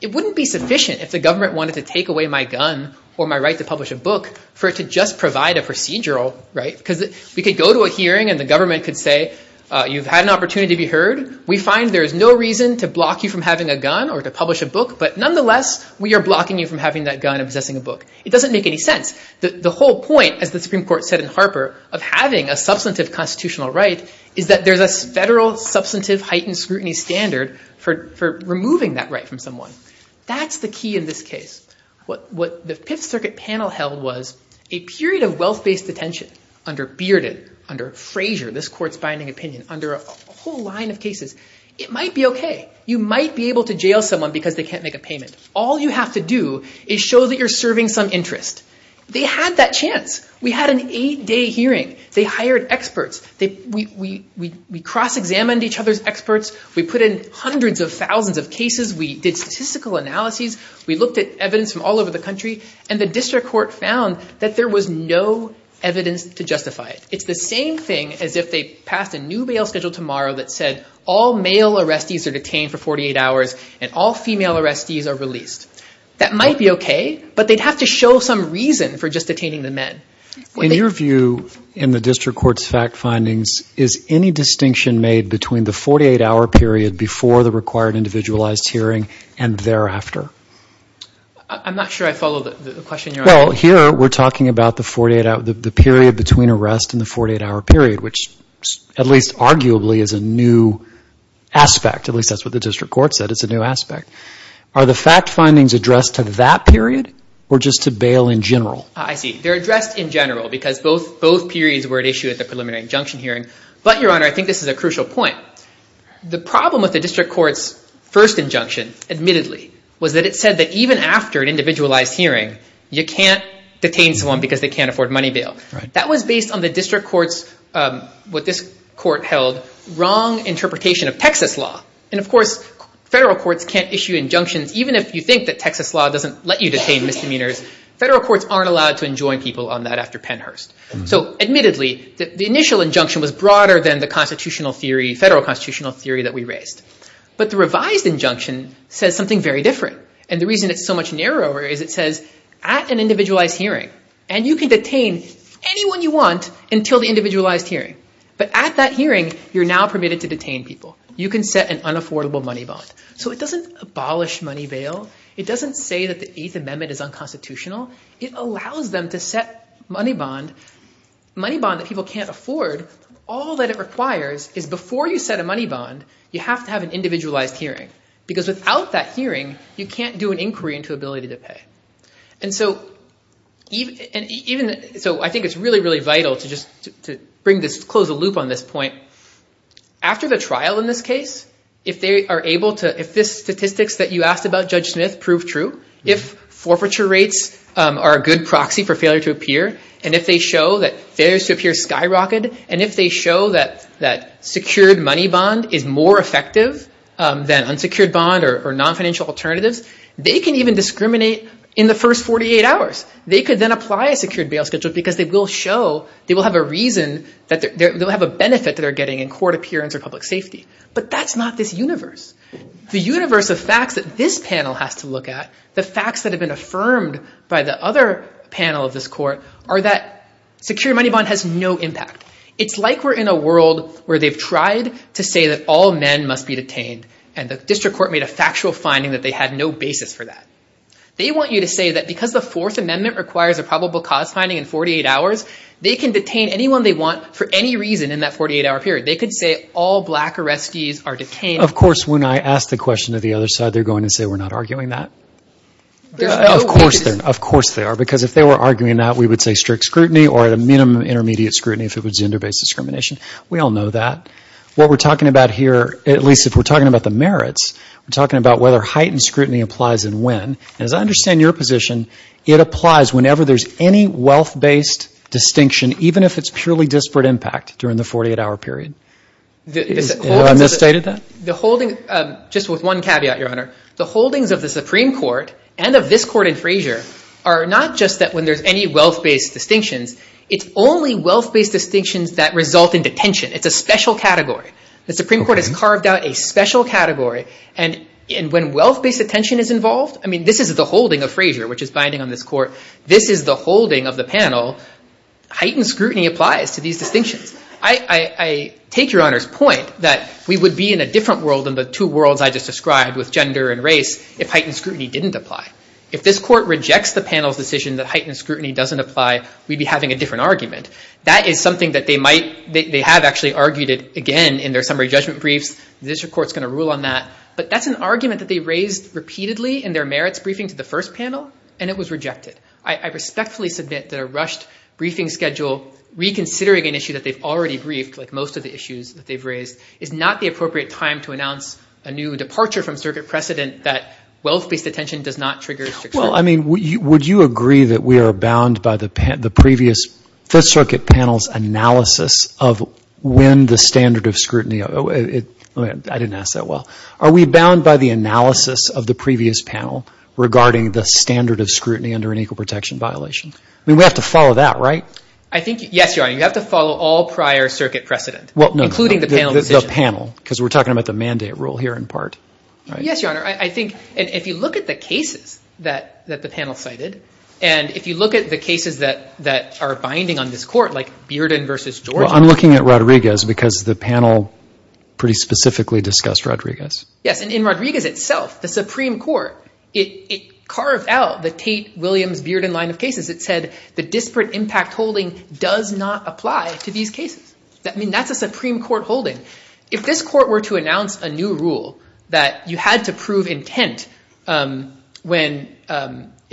It wouldn't be sufficient if the government wanted to take away my gun or my right to publish a book for it to just provide a procedural right. Because we could go to a hearing and the government could say, you've had an opportunity to be heard. We find there is no reason to block you from having a gun or to publish a book, but nonetheless, we are blocking you from having that gun and possessing a book. It doesn't make any sense. The whole point, as the Supreme Court said in Harper, of having a substantive constitutional right is that there's a federal substantive heightened scrutiny standard for removing that right from someone. That's the key in this case. What the Fifth Circuit panel held was a period of wealth-based detention under Bearded, under Frazier, this court's binding opinion, under a whole line of cases. It might be okay. You might be able to jail someone because they can't make a payment. All you have to do is show that you're serving some interest. They had that chance. We had an eight-day hearing. They hired experts. We cross-examined each other's experts. We put in hundreds of thousands of cases. We did statistical analyses. We looked at evidence from all over the country. And the district court found that there was no evidence to justify it. It's the same thing as if they passed a new bail schedule tomorrow that said, all male arrestees are detained for 48 hours and all female arrestees are released. That might be okay, but they'd have to show some reason for just detaining the men. In your view, in the district court's fact findings, is any distinction made between the 48-hour period before the required individualized hearing and thereafter? I'm not sure I follow the question you're asking. Well, here we're talking about the period between arrest and the 48-hour period, which at least arguably is a new aspect. At least that's what the district court said. It's a new aspect. Are the fact findings addressed to that period or just to bail in general? I see. They're addressed in general because both periods were at issue at the preliminary injunction hearing. But, Your Honor, I think this is a crucial point. The problem with the district court's first injunction, admittedly, was that it said that even after an individualized hearing, you can't detain someone because they can't afford money bail. That was based on the district court's, what this court held, wrong interpretation of Texas law. And, of course, federal courts can't issue injunctions. Even if you think that Texas law doesn't let you detain misdemeanors, federal courts aren't allowed to enjoin people on that after Pennhurst. So, admittedly, the initial injunction was broader than the federal constitutional theory that we raised. But the revised injunction says something very different. And the reason it's so much narrower is it says at an individualized hearing, and you can detain anyone you want until the individualized hearing, but at that hearing, you're now permitted to detain people. You can set an unaffordable money bond. So it doesn't abolish money bail. It doesn't say that the Eighth Amendment is unconstitutional. It allows them to set money bond, money bond that people can't afford. All that it requires is before you set a money bond, you have to have an individualized hearing And so I think it's really, really vital to close the loop on this point. After the trial in this case, if this statistics that you asked about, Judge Smith, proved true, if forfeiture rates are a good proxy for failure to appear, and if they show that failure to appear skyrocketed, and if they show that secured money bond is more effective than unsecured bond or nonfinancial alternatives, they can even discriminate in the first 48 hours. They could then apply a secured bail schedule because they will show, they will have a reason, they'll have a benefit that they're getting in court appearance or public safety. But that's not this universe. The universe of facts that this panel has to look at, the facts that have been affirmed by the other panel of this court, are that secured money bond has no impact. It's like we're in a world where they've tried to say that all men must be detained, and the district court made a factual finding that they had no basis for that. They want you to say that because the Fourth Amendment requires a probable cause finding in 48 hours, they can detain anyone they want for any reason in that 48-hour period. They could say all black arrestees are detained. Of course, when I ask the question to the other side, they're going to say we're not arguing that. Of course they are, because if they were arguing that, we would say strict scrutiny or a minimum intermediate scrutiny if it was gender-based discrimination. We all know that. What we're talking about here, at least if we're talking about the merits, we're talking about whether heightened scrutiny applies and when. And as I understand your position, it applies whenever there's any wealth-based distinction, even if it's purely disparate impact during the 48-hour period. Have I misstated that? Just with one caveat, Your Honor. The holdings of the Supreme Court and of this court in Frayser are not just that when there's any wealth-based distinctions. It's only wealth-based distinctions that result in detention. It's a special category. The Supreme Court has carved out a special category. And when wealth-based detention is involved, I mean, this is the holding of Frayser, which is binding on this court. This is the holding of the panel. Heightened scrutiny applies to these distinctions. I take Your Honor's point that we would be in a different world than the two worlds I just described with gender and race if heightened scrutiny didn't apply. If this court rejects the panel's decision that heightened scrutiny doesn't apply, we'd be having a different argument. That is something that they have actually argued again in their summary judgment briefs. The district court is going to rule on that. But that's an argument that they raised repeatedly in their merits briefing to the first panel, and it was rejected. I respectfully submit that a rushed briefing schedule reconsidering an issue that they've already briefed, like most of the issues that they've raised, is not the appropriate time to announce a new departure from circuit precedent that wealth-based detention does not trigger strict scrutiny. Well, I mean, would you agree that we are bound by the previous Fifth Circuit panel's analysis of when the standard of scrutiny, I didn't ask that well. Are we bound by the analysis of the previous panel regarding the standard of scrutiny under an equal protection violation? I mean, we have to follow that, right? I think, yes, Your Honor. You have to follow all prior circuit precedent, including the panel decision. The panel, because we're talking about the mandate rule here in part, right? Yes, Your Honor. I think if you look at the cases that the panel cited, and if you look at the cases that are binding on this court, like Bearden v. Georgia. Well, I'm looking at Rodriguez because the panel pretty specifically discussed Rodriguez. Yes, and in Rodriguez itself, the Supreme Court, it carved out the Tate-Williams-Bearden line of cases. It said the disparate impact holding does not apply to these cases. I mean, that's a Supreme Court holding. If this court were to announce a new rule that you had to prove intent in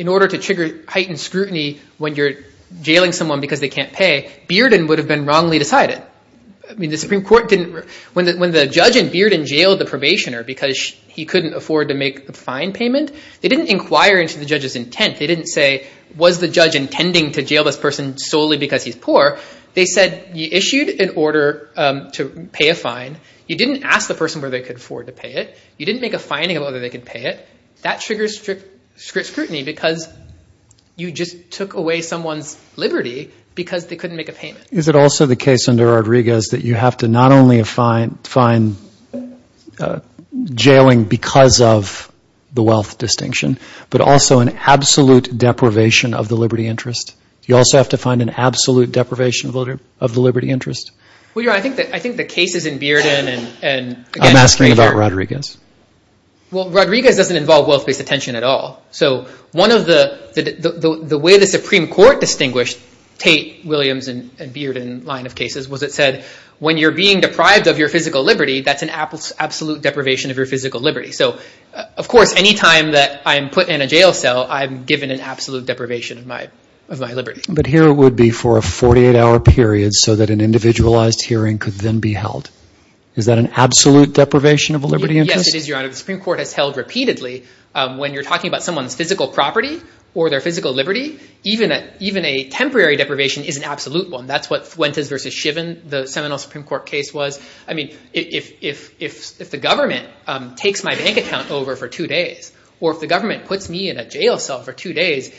order to trigger heightened scrutiny when you're jailing someone because they can't pay, Bearden would have been wrongly decided. I mean, the Supreme Court didn't, when the judge in Bearden jailed the probationer because he couldn't afford to make a fine payment, they didn't inquire into the judge's intent. They didn't say, was the judge intending to jail this person solely because he's poor? They said you issued an order to pay a fine. You didn't ask the person whether they could afford to pay it. You didn't make a finding of whether they could pay it. That triggers scrutiny because you just took away someone's liberty because they couldn't make a payment. Is it also the case under Rodriguez that you have to not only find jailing because of the wealth distinction, but also an absolute deprivation of the liberty interest? You also have to find an absolute deprivation of the liberty interest? Well, yeah, I think the cases in Bearden and— I'm asking about Rodriguez. Well, Rodriguez doesn't involve wealth-based attention at all. So one of the—the way the Supreme Court distinguished Tate, Williams, and Bearden line of cases was it said, when you're being deprived of your physical liberty, that's an absolute deprivation of your physical liberty. So, of course, any time that I'm put in a jail cell, I'm given an absolute deprivation of my liberty. But here it would be for a 48-hour period so that an individualized hearing could then be held. Is that an absolute deprivation of a liberty interest? Yes, it is, Your Honor. The Supreme Court has held repeatedly when you're talking about someone's physical property or their physical liberty, even a temporary deprivation is an absolute one. That's what Fuentes v. Shiven, the seminal Supreme Court case, was. I mean, if the government takes my bank account over for two days or if the government puts me in a jail cell for two days,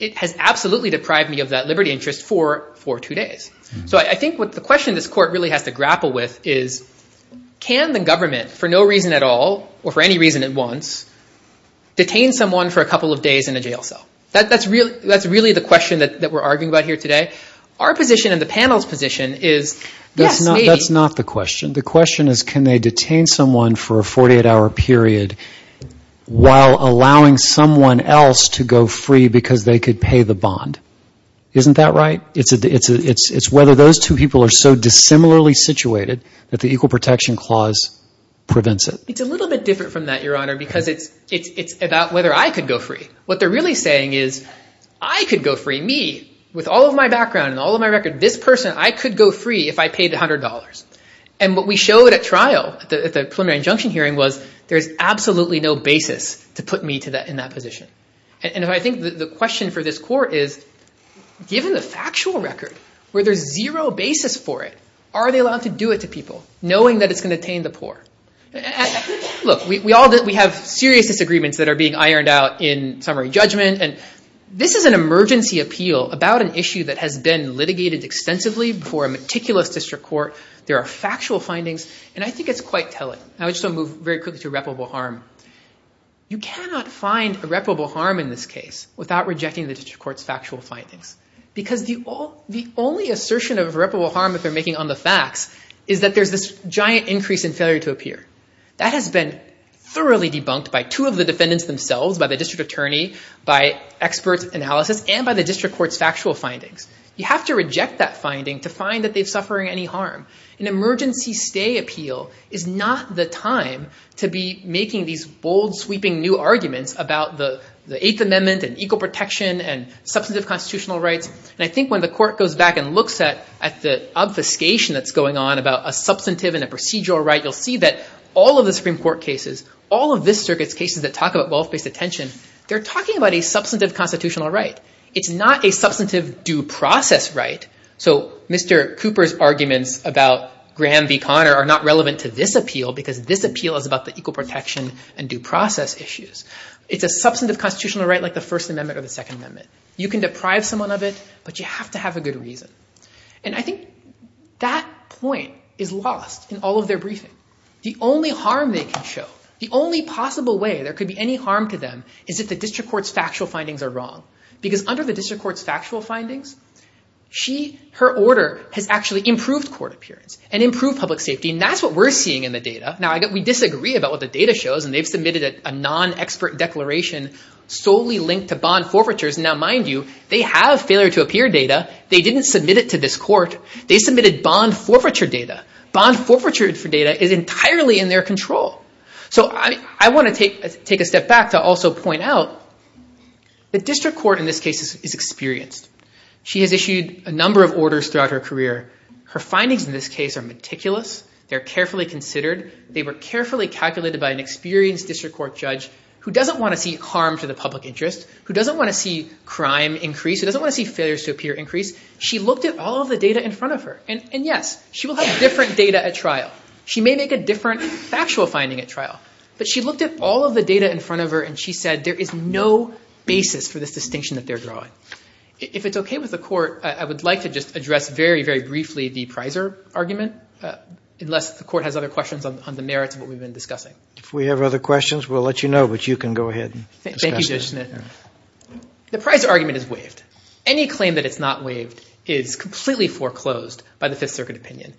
it has absolutely deprived me of that liberty interest for two days. So I think what the question this court really has to grapple with is, can the government for no reason at all or for any reason at once detain someone for a couple of days in a jail cell? That's really the question that we're arguing about here today. Our position and the panel's position is, yes, maybe— But that's not the question. The question is, can they detain someone for a 48-hour period while allowing someone else to go free because they could pay the bond? Isn't that right? It's whether those two people are so dissimilarly situated that the Equal Protection Clause prevents it. It's a little bit different from that, Your Honor, because it's about whether I could go free. What they're really saying is, I could go free, me, with all of my background and all of my record. This person, I could go free if I paid $100. And what we showed at trial, at the preliminary injunction hearing, was there's absolutely no basis to put me in that position. And I think the question for this court is, given the factual record where there's zero basis for it, are they allowed to do it to people knowing that it's going to detain the poor? Look, we have serious disagreements that are being ironed out in summary judgment. And this is an emergency appeal about an issue that has been litigated extensively before a meticulous district court. There are factual findings, and I think it's quite telling. I would just move very quickly to irreparable harm. You cannot find irreparable harm in this case without rejecting the district court's factual findings. Because the only assertion of irreparable harm that they're making on the facts is that there's this giant increase in failure to appear. That has been thoroughly debunked by two of the defendants themselves, by the district attorney, by expert analysis, and by the district court's factual findings. You have to reject that finding to find that they're suffering any harm. An emergency stay appeal is not the time to be making these bold, sweeping new arguments about the Eighth Amendment and equal protection and substantive constitutional rights. And I think when the court goes back and looks at the obfuscation that's going on about a substantive and a procedural right, you'll see that all of the Supreme Court cases, all of this circuit's cases that talk about wealth-based attention, they're talking about a substantive constitutional right. It's not a substantive due process right. So Mr. Cooper's arguments about Graham v. Conner are not relevant to this appeal because this appeal is about the equal protection and due process issues. It's a substantive constitutional right like the First Amendment or the Second Amendment. You can deprive someone of it, but you have to have a good reason. And I think that point is lost in all of their briefing. The only harm they can show, the only possible way there could be any harm to them is if the district court's factual findings are wrong. Because under the district court's factual findings, her order has actually improved court appearance and improved public safety, and that's what we're seeing in the data. Now, we disagree about what the data shows, and they've submitted a non-expert declaration solely linked to bond forfeitures. Now, mind you, they have failure-to-appear data. They didn't submit it to this court. They submitted bond forfeiture data. Bond forfeiture data is entirely in their control. So I want to take a step back to also point out the district court in this case is experienced. She has issued a number of orders throughout her career. Her findings in this case are meticulous. They're carefully considered. They were carefully calculated by an experienced district court judge who doesn't want to see harm to the public interest, who doesn't want to see crime increase, who doesn't want to see failure-to-appear increase. She looked at all of the data in front of her, and yes, she will have different data at trial. She may make a different factual finding at trial, but she looked at all of the data in front of her, and she said there is no basis for this distinction that they're drawing. If it's okay with the court, I would like to just address very, very briefly the Pizer argument, unless the court has other questions on the merits of what we've been discussing. If we have other questions, we'll let you know, but you can go ahead and discuss it. Thank you, Judge Schnitt. The Pizer argument is waived. Any claim that it's not waived is completely foreclosed by the Fifth Circuit opinion.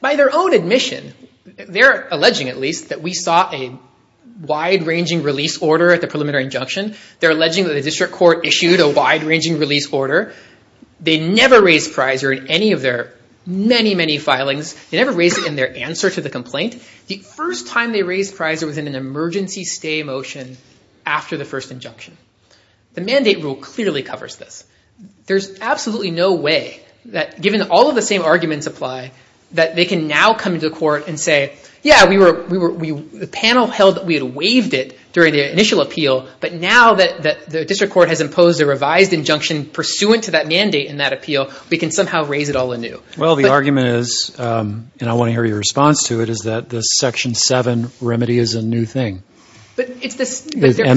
By their own admission, they're alleging at least that we saw a wide-ranging release order at the preliminary injunction. They're alleging that the district court issued a wide-ranging release order. They never raised Pizer in any of their many, many filings. They never raised it in their answer to the complaint. The first time they raised Pizer was in an emergency stay motion after the first injunction. The mandate rule clearly covers this. There's absolutely no way that, given all of the same arguments apply, that they can now come to the court and say, yeah, the panel held that we had waived it during the initial appeal, but now that the district court has imposed a revised injunction pursuant to that mandate and that appeal, we can somehow raise it all anew. Well, the argument is, and I want to hear your response to it, is that the Section 7 remedy is a new thing. And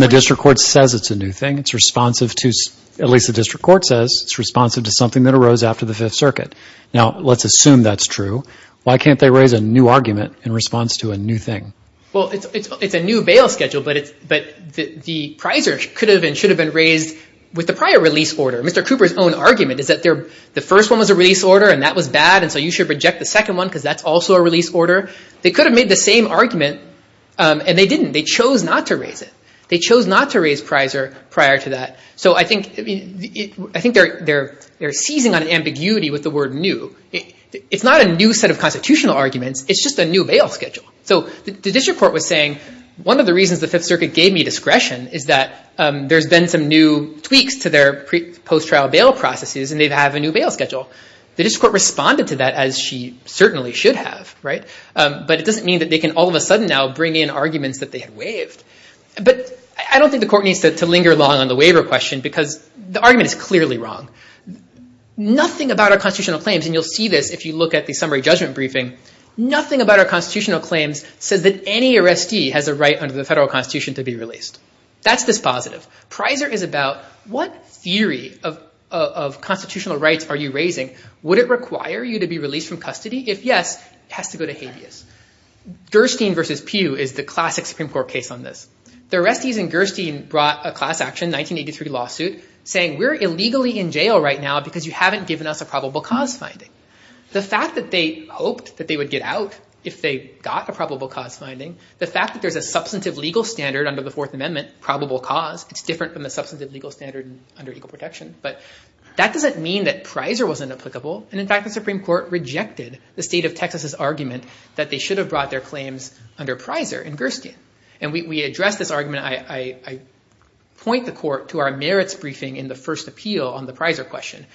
the district court says it's a new thing. It's responsive to, at least the district court says, it's responsive to something that arose after the Fifth Circuit. Now, let's assume that's true. Why can't they raise a new argument in response to a new thing? Well, it's a new bail schedule, but the Pizer could have and should have been raised with the prior release order. Mr. Cooper's own argument is that the first one was a release order and that was bad, and so you should reject the second one because that's also a release order. They could have made the same argument, and they didn't. They chose not to raise it. So I think they're seizing on ambiguity with the word new. It's not a new set of constitutional arguments. It's just a new bail schedule. So the district court was saying, one of the reasons the Fifth Circuit gave me discretion is that there's been some new tweaks to their post-trial bail processes, and they have a new bail schedule. The district court responded to that, as she certainly should have, right? But it doesn't mean that they can all of a sudden now bring in arguments that they had waived. But I don't think the court needs to linger long on the waiver question because the argument is clearly wrong. Nothing about our constitutional claims, and you'll see this if you look at the summary judgment briefing, nothing about our constitutional claims says that any arrestee has a right under the federal constitution to be released. That's dispositive. Pizer is about what theory of constitutional rights are you raising? Would it require you to be released from custody? If yes, it has to go to habeas. Gerstein v. Pew is the classic Supreme Court case on this. The arrestees in Gerstein brought a class action 1983 lawsuit saying, we're illegally in jail right now because you haven't given us a probable cause finding. The fact that they hoped that they would get out if they got a probable cause finding, the fact that there's a substantive legal standard under the Fourth Amendment, probable cause, it's different from the substantive legal standard under equal protection, but that doesn't mean that Pizer wasn't applicable. In fact, the Supreme Court rejected the state of Texas' argument that they should have brought their claims under Pizer in Gerstein. We addressed this argument. I point the court to our merits briefing in the first appeal on the Pizer question.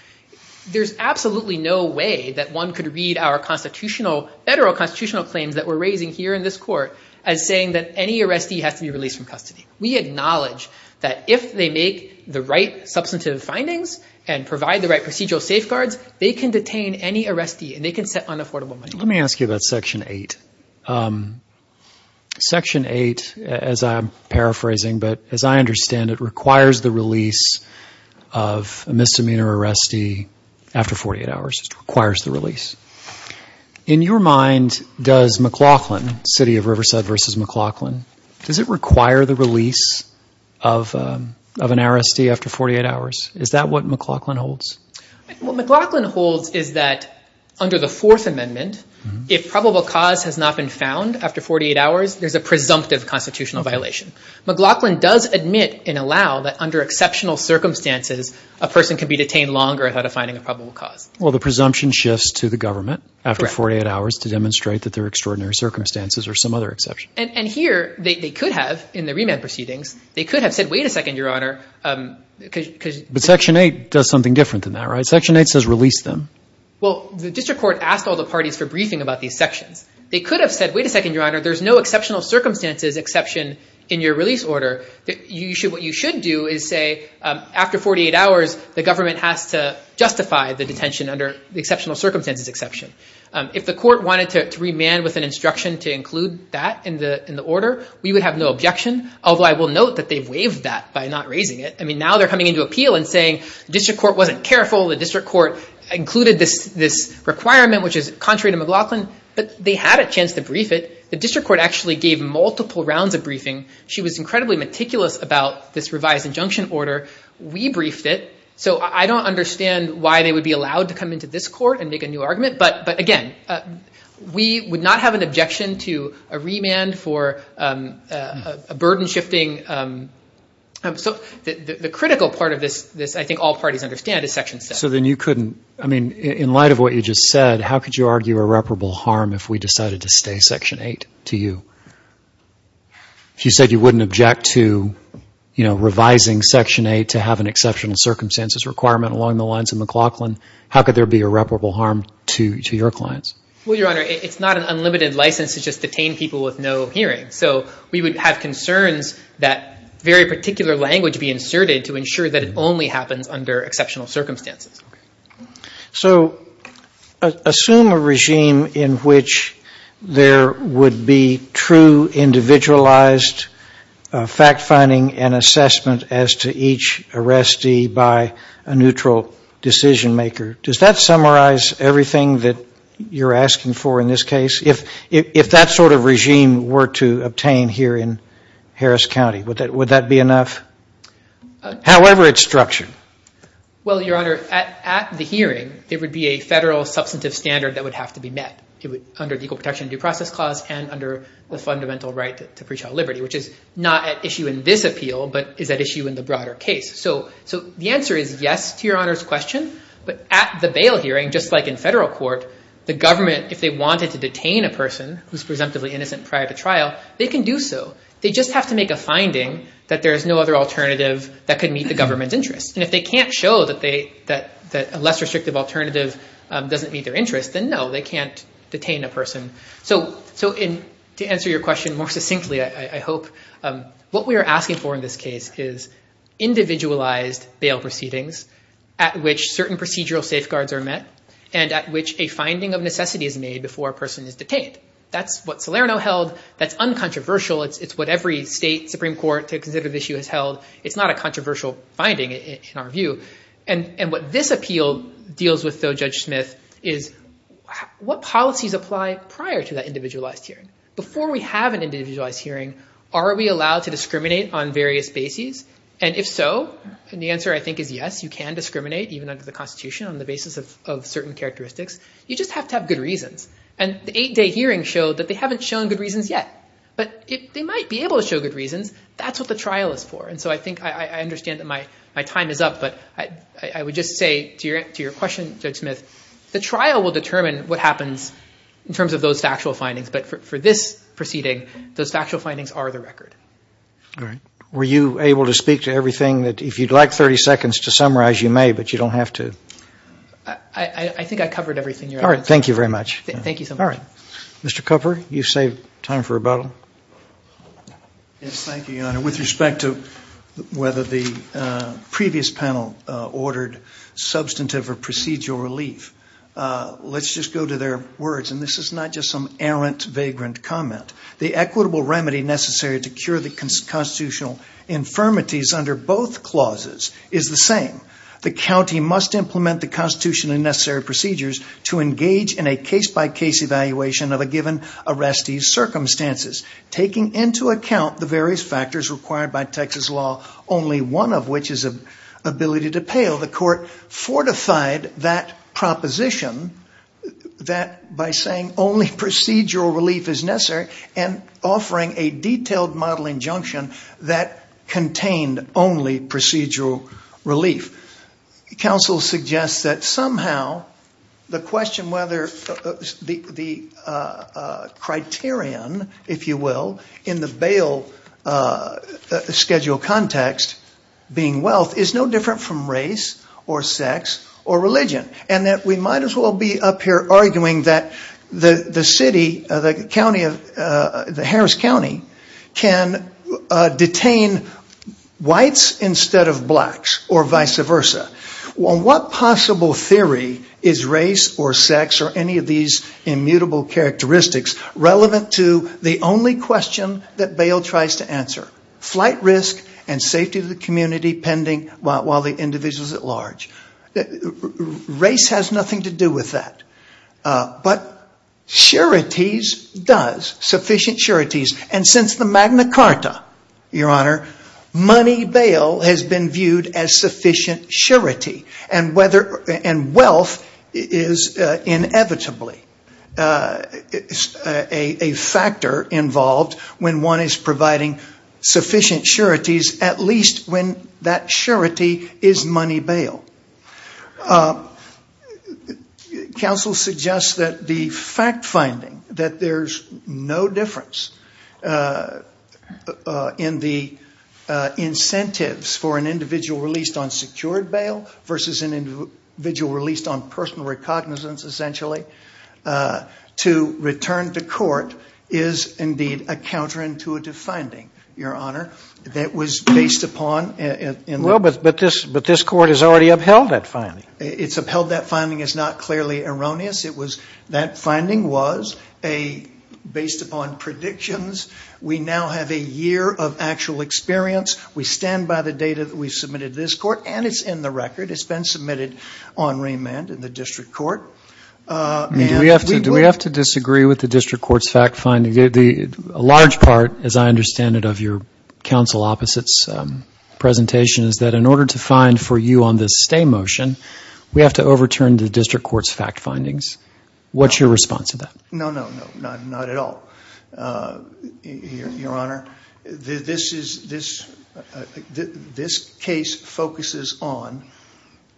There's absolutely no way that one could read our federal constitutional claims that we're raising here in this court as saying that any arrestee has to be released from custody. We acknowledge that if they make the right substantive findings and provide the right procedural safeguards, they can detain any arrestee and they can set unaffordable money. Let me ask you about Section 8. Section 8, as I'm paraphrasing, but as I understand it, requires the release of a misdemeanor arrestee after 48 hours. It requires the release. In your mind, does McLaughlin, city of Riverside versus McLaughlin, does it require the release of an arrestee after 48 hours? Is that what McLaughlin holds? What McLaughlin holds is that under the Fourth Amendment, if probable cause has not been found after 48 hours, there's a presumptive constitutional violation. McLaughlin does admit and allow that under exceptional circumstances, a person can be detained longer without finding a probable cause. Well, the presumption shifts to the government after 48 hours to demonstrate that there are extraordinary circumstances or some other exception. And here they could have, in the remand proceedings, they could have said, wait a second, Your Honor. But Section 8 does something different than that, right? Section 8 says release them. Well, the district court asked all the parties for briefing about these sections. They could have said, wait a second, Your Honor, there's no exceptional circumstances exception in your release order. What you should do is say, after 48 hours, the government has to justify the detention under the exceptional circumstances exception. If the court wanted to remand with an instruction to include that in the order, we would have no objection, although I will note that they've waived that by not raising it. I mean, now they're coming into appeal and saying the district court wasn't careful. The district court included this requirement, which is contrary to McLaughlin. But they had a chance to brief it. The district court actually gave multiple rounds of briefing. She was incredibly meticulous about this revised injunction order. We briefed it. So I don't understand why they would be allowed to come into this court and make a new argument. But again, we would not have an objection to a remand for a burden-shifting. So the critical part of this, I think all parties understand, is Section 7. So then you couldn't – I mean, in light of what you just said, how could you argue irreparable harm if we decided to stay Section 8 to you? If you said you wouldn't object to, you know, revising Section 8 to have an exceptional circumstances requirement along the lines of McLaughlin, how could there be irreparable harm to your clients? Well, Your Honor, it's not an unlimited license to just detain people with no hearing. So we would have concerns that very particular language be inserted to ensure that it only happens under exceptional circumstances. So assume a regime in which there would be true individualized fact-finding and assessment as to each arrestee by a neutral decision-maker. Does that summarize everything that you're asking for in this case? If that sort of regime were to obtain here in Harris County, would that be enough? However it's structured. Well, Your Honor, at the hearing, it would be a federal substantive standard that would have to be met. It would – under the Equal Protection Due Process Clause and under the fundamental right to pre-trial liberty, which is not at issue in this appeal but is at issue in the broader case. So the answer is yes to Your Honor's question. But at the bail hearing, just like in federal court, the government, if they wanted to detain a person who's presumptively innocent prior to trial, they can do so. They just have to make a finding that there is no other alternative that could meet the government's interest. And if they can't show that a less restrictive alternative doesn't meet their interest, then no, they can't detain a person. So to answer your question more succinctly, I hope, what we are asking for in this case is individualized bail proceedings at which certain procedural safeguards are met and at which a finding of necessity is made before a person is detained. That's what Salerno held. That's uncontroversial. It's what every state Supreme Court to consider the issue has held. It's not a controversial finding in our view. And what this appeal deals with, though, Judge Smith, is what policies apply prior to that individualized hearing? Before we have an individualized hearing, are we allowed to discriminate on various bases? And if so, and the answer I think is yes, you can discriminate, even under the Constitution on the basis of certain characteristics. You just have to have good reasons. And the eight-day hearing showed that they haven't shown good reasons yet. But they might be able to show good reasons. That's what the trial is for. And so I think I understand that my time is up. But I would just say to your question, Judge Smith, the trial will determine what happens in terms of those factual findings. But for this proceeding, those factual findings are the record. All right. Were you able to speak to everything? If you'd like 30 seconds to summarize, you may, but you don't have to. I think I covered everything. All right. Thank you very much. Thank you so much. All right. Mr. Cooper, you've saved time for rebuttal. Yes, thank you, Your Honor. With respect to whether the previous panel ordered substantive or procedural relief, let's just go to their words. And this is not just some errant, vagrant comment. The equitable remedy necessary to cure the constitutional infirmities under both clauses is the same. The county must implement the constitutionally necessary procedures to engage in a case-by-case evaluation of a given arrestee's circumstances. Taking into account the various factors required by Texas law, only one of which is the ability to pale, the court fortified that proposition by saying only procedural relief is necessary and offering a detailed model injunction that contained only procedural relief. Counsel suggests that somehow the question whether the criterion, if you will, in the bail schedule context, being wealth, is no different from race or sex or religion. And that we might as well be up here arguing that the city, the Harris County, can detain whites instead of blacks or vice versa. What possible theory is race or sex or any of these immutable characteristics relevant to the only question that bail tries to answer? Flight risk and safety of the community pending while the individual is at large. Race has nothing to do with that. But sureties does, sufficient sureties. And since the Magna Carta, Your Honor, money bail has been viewed as sufficient surety. And wealth is inevitably a factor involved when one is providing sufficient sureties, at least when that surety is money bail. Counsel suggests that the fact finding that there's no difference in the incentives for an individual released on secured bail versus an individual released on personal recognizance, essentially, to return to court is indeed a counterintuitive finding, Your Honor, that was based upon. But this court has already upheld that finding. It's upheld that finding is not clearly erroneous. That finding was based upon predictions. We now have a year of actual experience. We stand by the data that we submitted to this court, and it's in the record. It's been submitted on remand in the district court. Do we have to disagree with the district court's fact finding? A large part, as I understand it, of your counsel opposite's presentation is that in order to find for you on this stay motion, we have to overturn the district court's fact findings. What's your response to that? No, no, no, not at all, Your Honor. This case focuses on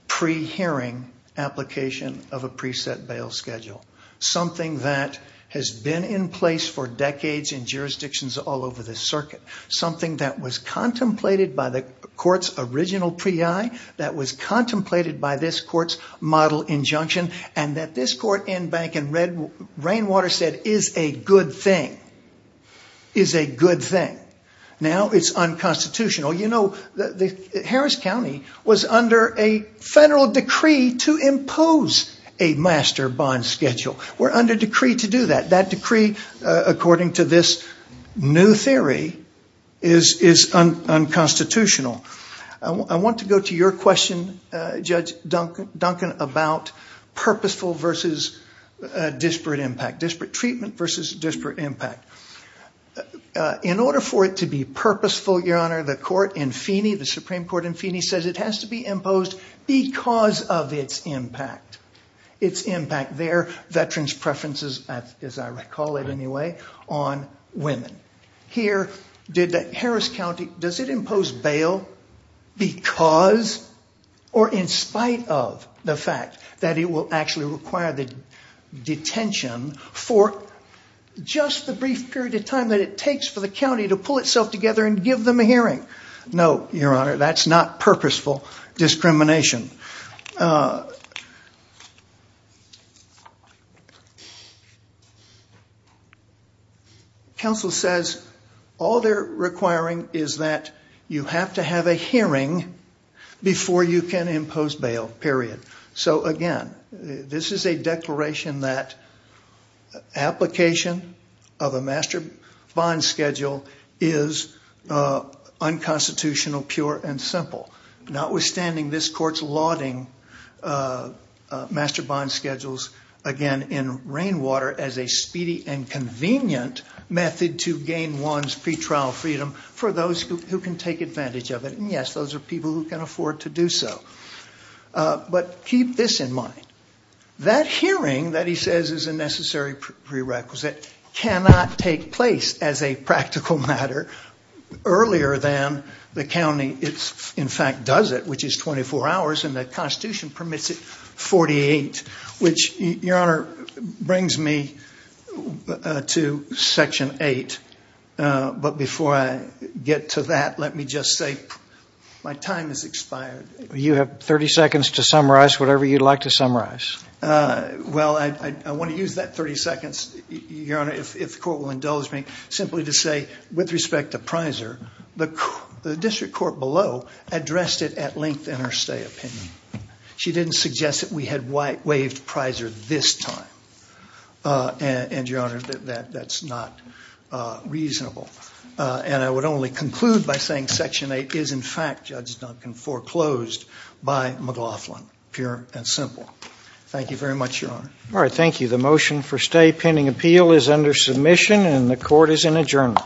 pre-hearing application of a preset bail schedule, something that has been in place for decades in jurisdictions all over the circuit, something that was contemplated by the court's original pre-I, that was contemplated by this court's model injunction, and that this court in Bank and Rainwater said is a good thing, is a good thing. Now it's unconstitutional. Harris County was under a federal decree to impose a master bond schedule. We're under decree to do that. That decree, according to this new theory, is unconstitutional. I want to go to your question, Judge Duncan, about purposeful versus disparate impact, disparate treatment versus disparate impact. In order for it to be purposeful, Your Honor, the court in Feeney, the Supreme Court in Feeney, says it has to be imposed because of its impact, its impact there, veterans' preferences, as I recall it anyway, on women. Here, Harris County, does it impose bail because or in spite of the fact that it will actually require the detention for just the brief period of time that it takes for the county to pull itself together and give them a hearing? No, Your Honor, that's not purposeful discrimination. Counsel says all they're requiring is that you have to have a hearing before you can impose bail, period. Again, this is a declaration that application of a master bond schedule is unconstitutional, pure, and simple. Notwithstanding, this court's lauding master bond schedules, again, in Rainwater as a speedy and convenient method to gain one's pretrial freedom for those who can take advantage of it. Yes, those are people who can afford to do so. But keep this in mind. That hearing that he says is a necessary prerequisite cannot take place as a practical matter earlier than the county in fact does it, which is 24 hours, and the Constitution permits it 48, which, Your Honor, brings me to Section 8. But before I get to that, let me just say my time has expired. You have 30 seconds to summarize whatever you'd like to summarize. Well, I want to use that 30 seconds, Your Honor, if the court will indulge me, simply to say, with respect to Prizer, the district court below addressed it at length in her stay opinion. She didn't suggest that we had waived Prizer this time. And, Your Honor, that's not reasonable. And I would only conclude by saying Section 8 is, in fact, Judge Duncan, foreclosed by McLaughlin, pure and simple. Thank you very much, Your Honor. All right. Thank you. The motion for stay pending appeal is under submission, and the court is in adjournment.